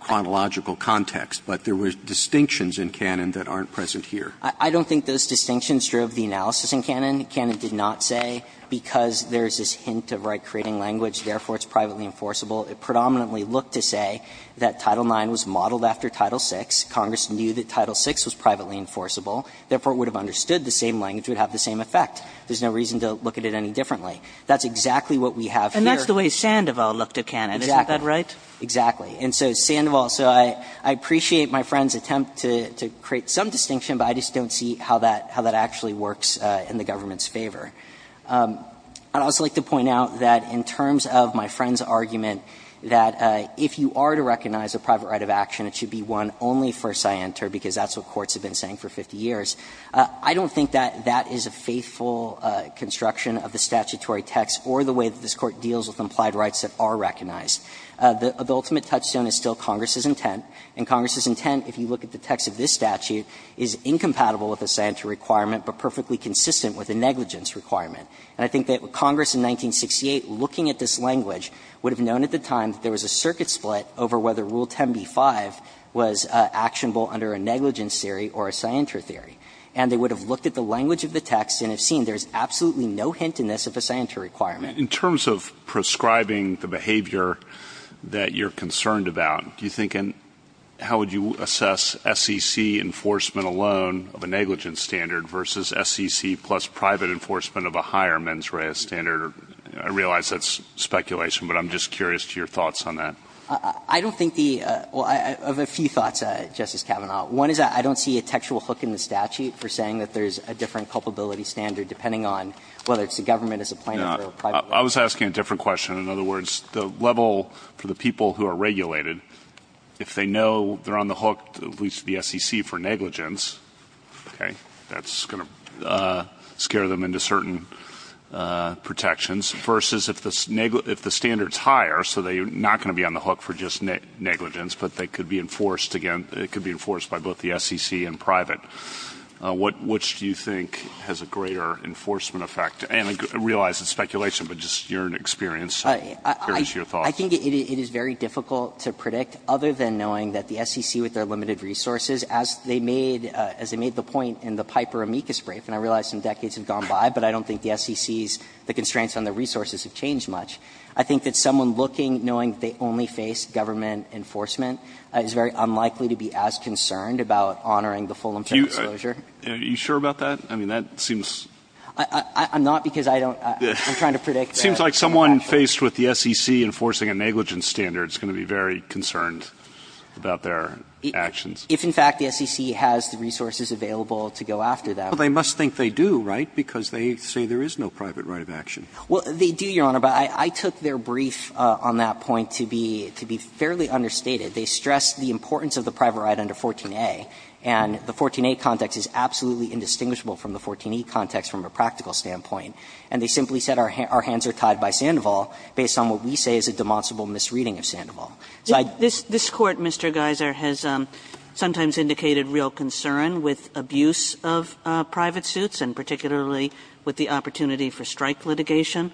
chronological context, but there were distinctions in Canon that aren't present here. I don't think those distinctions drove the analysis in Canon. Canon did not say because there's this hint of right-creating language, therefore it's privately enforceable. It predominantly looked to say that Title IX was modeled after Title VI. Congress knew that Title VI was privately enforceable, therefore it would have understood the same language would have the same effect. There's no reason to look at it any differently. That's exactly what we have here. Kagan And that's the way Sandoval looked at Canon, isn't that right? Roberts Exactly. And so Sandoval, so I appreciate my friend's attempt to create some distinction, but I just don't see how that actually works in the government's favor. I'd also like to point out that in terms of my friend's argument that if you are to recognize a private right of action, it should be one only for scienter, because that's what courts have been saying for 50 years. I don't think that that is a faithful construction of the statutory text or the way that this Court deals with implied rights that are recognized. The ultimate touchstone is still Congress's intent, and Congress's intent, if you look at the text of this statute, is incompatible with the scienter requirement but perfectly consistent with the negligence requirement. And I think that Congress in 1968, looking at this language, would have known at the time that there was a circuit split over whether Rule 10b-5 was actionable under a negligence theory or a scienter theory. And they would have looked at the language of the text and have seen there is absolutely no hint in this of a scienter requirement. In terms of prescribing the behavior that you're concerned about, do you think it would be fair to say that there is a different culpability standard for a private right? And how would you assess SEC enforcement alone of a negligence standard versus SEC plus private enforcement of a higher mens rea standard? I realize that's speculation, but I'm just curious to your thoughts on that. I don't think the – well, I have a few thoughts, Justice Kavanaugh. One is that I don't see a textual hook in the statute for saying that there is a different culpability standard, depending on whether it's the government as a plaintiff or a private right. I was asking a different question. In other words, the level for the people who are regulated, if they know they're on the hook, at least the SEC, for negligence, okay, that's going to scare them into certain protections, versus if the standard's higher, so they're not going to be on the hook for just negligence, but they could be enforced – again, it could be enforced by both the SEC and private. Which do you think has a greater enforcement effect? And I realize it's speculation, but just your experience, so I'm curious to your thoughts. I think it is very difficult to predict, other than knowing that the SEC, with their limited resources, as they made – as they made the point in the Piper amicus brief, and I realize some decades have gone by, but I don't think the SEC's – the constraints on their resources have changed much. I think that someone looking, knowing that they only face government enforcement, is very unlikely to be as concerned about honoring the full and fair disclosure. Are you sure about that? I mean, that seems – I'm not, because I don't – I'm trying to predict that. Seems like someone faced with the SEC enforcing a negligence standard is going to be very concerned about their actions. If, in fact, the SEC has the resources available to go after that. Well, they must think they do, right, because they say there is no private right of action. Well, they do, Your Honor, but I took their brief on that point to be – to be fairly understated. They stress the importance of the private right under 14a, and the 14a context is absolutely indistinguishable from the 14e context from a practical standpoint. And they simply said our hands are tied by Sandoval based on what we say is a demonstrable misreading of Sandoval. So I don't think that's the case. This Court, Mr. Geiser, has sometimes indicated real concern with abuse of private suits, and particularly with the opportunity for strike litigation.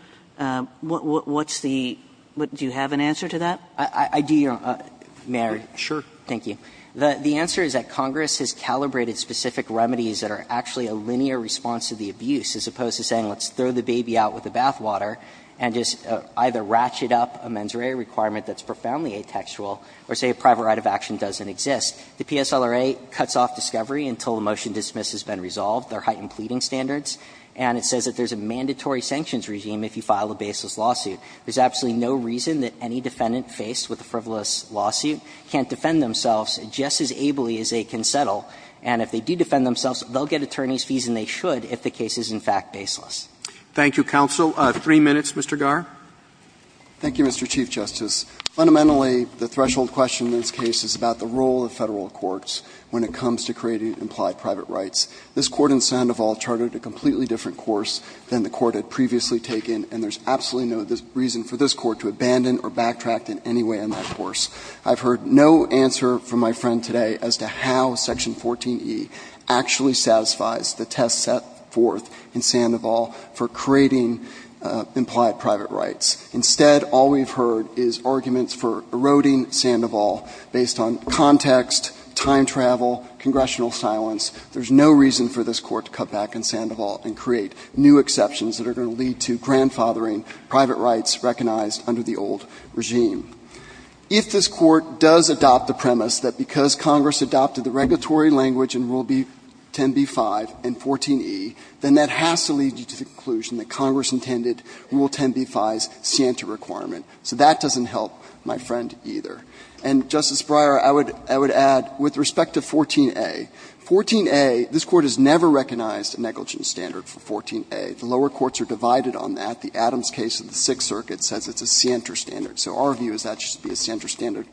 What's the – do you have an answer to that? I do, Your Honor. May I? Sure. Thank you. The answer is that Congress has calibrated specific remedies that are actually a linear response to the abuse, as opposed to saying let's throw the baby out with the bathwater and just either ratchet up a mens rea requirement that's profoundly atextual, or say a private right of action doesn't exist. The PSLRA cuts off discovery until the motion dismissed has been resolved. There are heightened pleading standards, and it says that there's a mandatory sanctions regime if you file a baseless lawsuit. There's absolutely no reason that any defendant faced with a frivolous lawsuit can't defend themselves just as ably as they can settle. And if they do defend themselves, they'll get attorney's fees, and they should if the case is in fact baseless. Thank you, counsel. Three minutes, Mr. Garre. Thank you, Mr. Chief Justice. Fundamentally, the threshold question in this case is about the role of Federal courts when it comes to creating implied private rights. This Court in Sandoval charted a completely different course than the Court had previously taken, and there's absolutely no reason for this Court to abandon or backtrack in any way on that course. I've heard no answer from my friend today as to how Section 14e actually satisfies the test set forth in Sandoval for creating implied private rights. Instead, all we've heard is arguments for eroding Sandoval based on context, time travel, congressional silence. There's no reason for this Court to cut back in Sandoval and create new exceptions that are going to lead to grandfathering private rights recognized under the old regime. If this Court does adopt the premise that because Congress adopted the regulatory language in Rule 10b-5 and 14e, then that has to lead you to the conclusion that Congress intended Rule 10b-5's scienter requirement. So that doesn't help my friend either. And, Justice Breyer, I would add, with respect to 14a, 14a, this Court has never recognized a negligence standard for 14a. The lower courts are divided on that. The Adams case of the Sixth Circuit says it's a scienter standard. So our view is that should be a scienter standard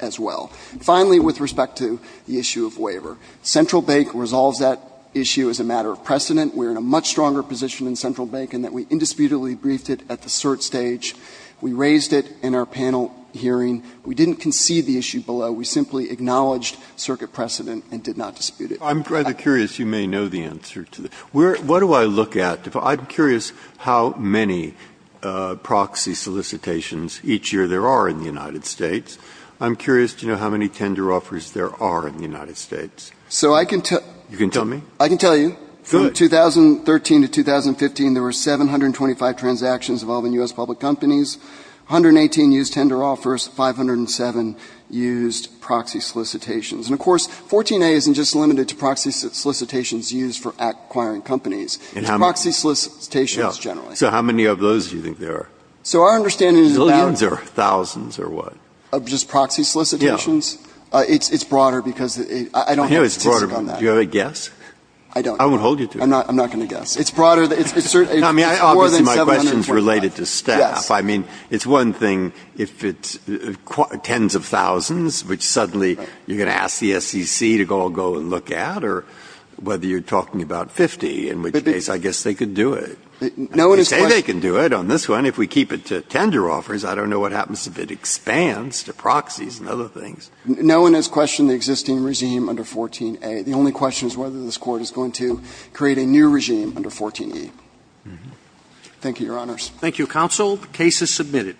as well. Finally, with respect to the issue of waiver, Central Bank resolves that issue as a matter of precedent. We are in a much stronger position in Central Bank in that we indisputably briefed it at the cert stage. We raised it in our panel hearing. We didn't concede the issue below. We simply acknowledged circuit precedent and did not dispute it. Breyer. I'm rather curious. You may know the answer to this. What do I look at? I'm curious how many proxy solicitations each year there are in the United States. I'm curious to know how many tender offers there are in the United States. You can tell me? I can tell you. Good. From 2013 to 2015, there were 725 transactions involving U.S. public companies. 118 used tender offers. 507 used proxy solicitations. And, of course, 14a isn't just limited to proxy solicitations used for acquiring companies. It's proxy solicitations generally. So how many of those do you think there are? So our understanding is that they are thousands or what? Just proxy solicitations? Yes. It's broader because I don't have statistics on that. Do you have a guess? I don't. I won't hold you to it. I'm not going to guess. It's broader. It's more than 725. Obviously, my question is related to staff. Yes. I mean, it's one thing if it's tens of thousands, which suddenly you're going to ask the SEC to go and look at, or whether you're talking about 50 in which case. I guess they could do it. They say they can do it on this one if we keep it to tender offers. I don't know what happens if it expands to proxies and other things. No one has questioned the existing regime under 14a. The only question is whether this Court is going to create a new regime under 14e. Thank you, Your Honors. Thank you, counsel. The case is submitted.